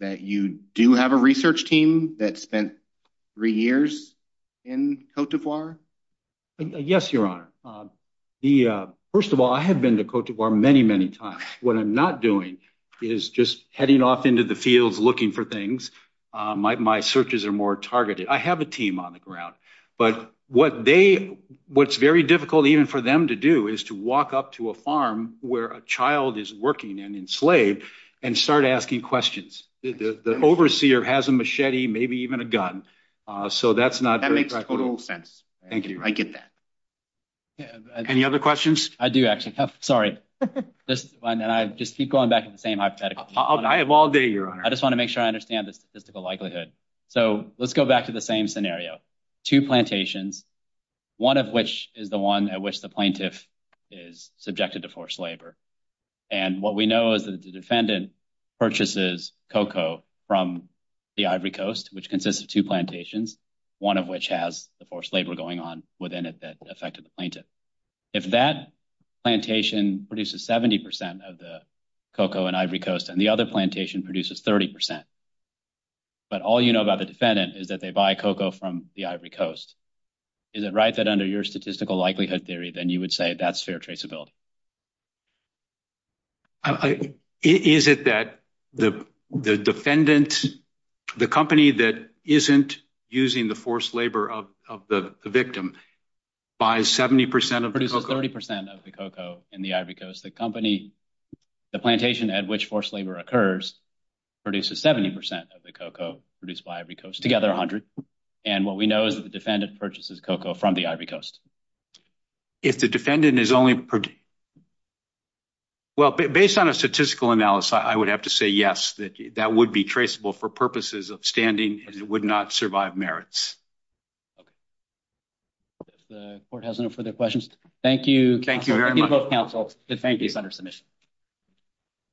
that you do have a research team that spent three years in Cote d'Ivoire? Yes, Your Honor. The first of all, I have been to Cote d'Ivoire many, many times. What I'm not doing is just heading off into the field, looking for things. My searches are more targeted. I have a team on the ground. But what they what's very difficult even for them to do is to walk up to a farm where a child is working and enslaved and start asking questions. The overseer has a machete, maybe even a gun. So that's not. That makes total sense. Thank you. Any other questions? I do, actually. Sorry. This one and I just keep going back to the same hypothetical. I have all day, Your Honor. I just want to make sure I understand the statistical likelihood. So let's go back to the same scenario. Two plantations, one of which is the one at which the plaintiff is subjected to forced labor. And what we know is that the defendant purchases cocoa from the Ivory Coast, which consists of two plantations, one of which has the forced labor going on within it that affected the if that plantation produces 70 percent of the cocoa and Ivory Coast and the other plantation produces 30 percent. But all you know about the defendant is that they buy cocoa from the Ivory Coast. Is it right that under your statistical likelihood theory, then you would say that's fair traceability? Is it that the defendant, the company that isn't using the forced labor of the victim buys 70 percent of the cocoa and the Ivory Coast, the company, the plantation at which forced labor occurs produces 70 percent of the cocoa produced by Ivory Coast together, a hundred. And what we know is that the defendant purchases cocoa from the Ivory Coast. If the defendant is only. Well, based on a statistical analysis, I would have to say yes, that that would be traceable for purposes of standing and it would not survive merits. The court has no further questions. Thank you. Thank you.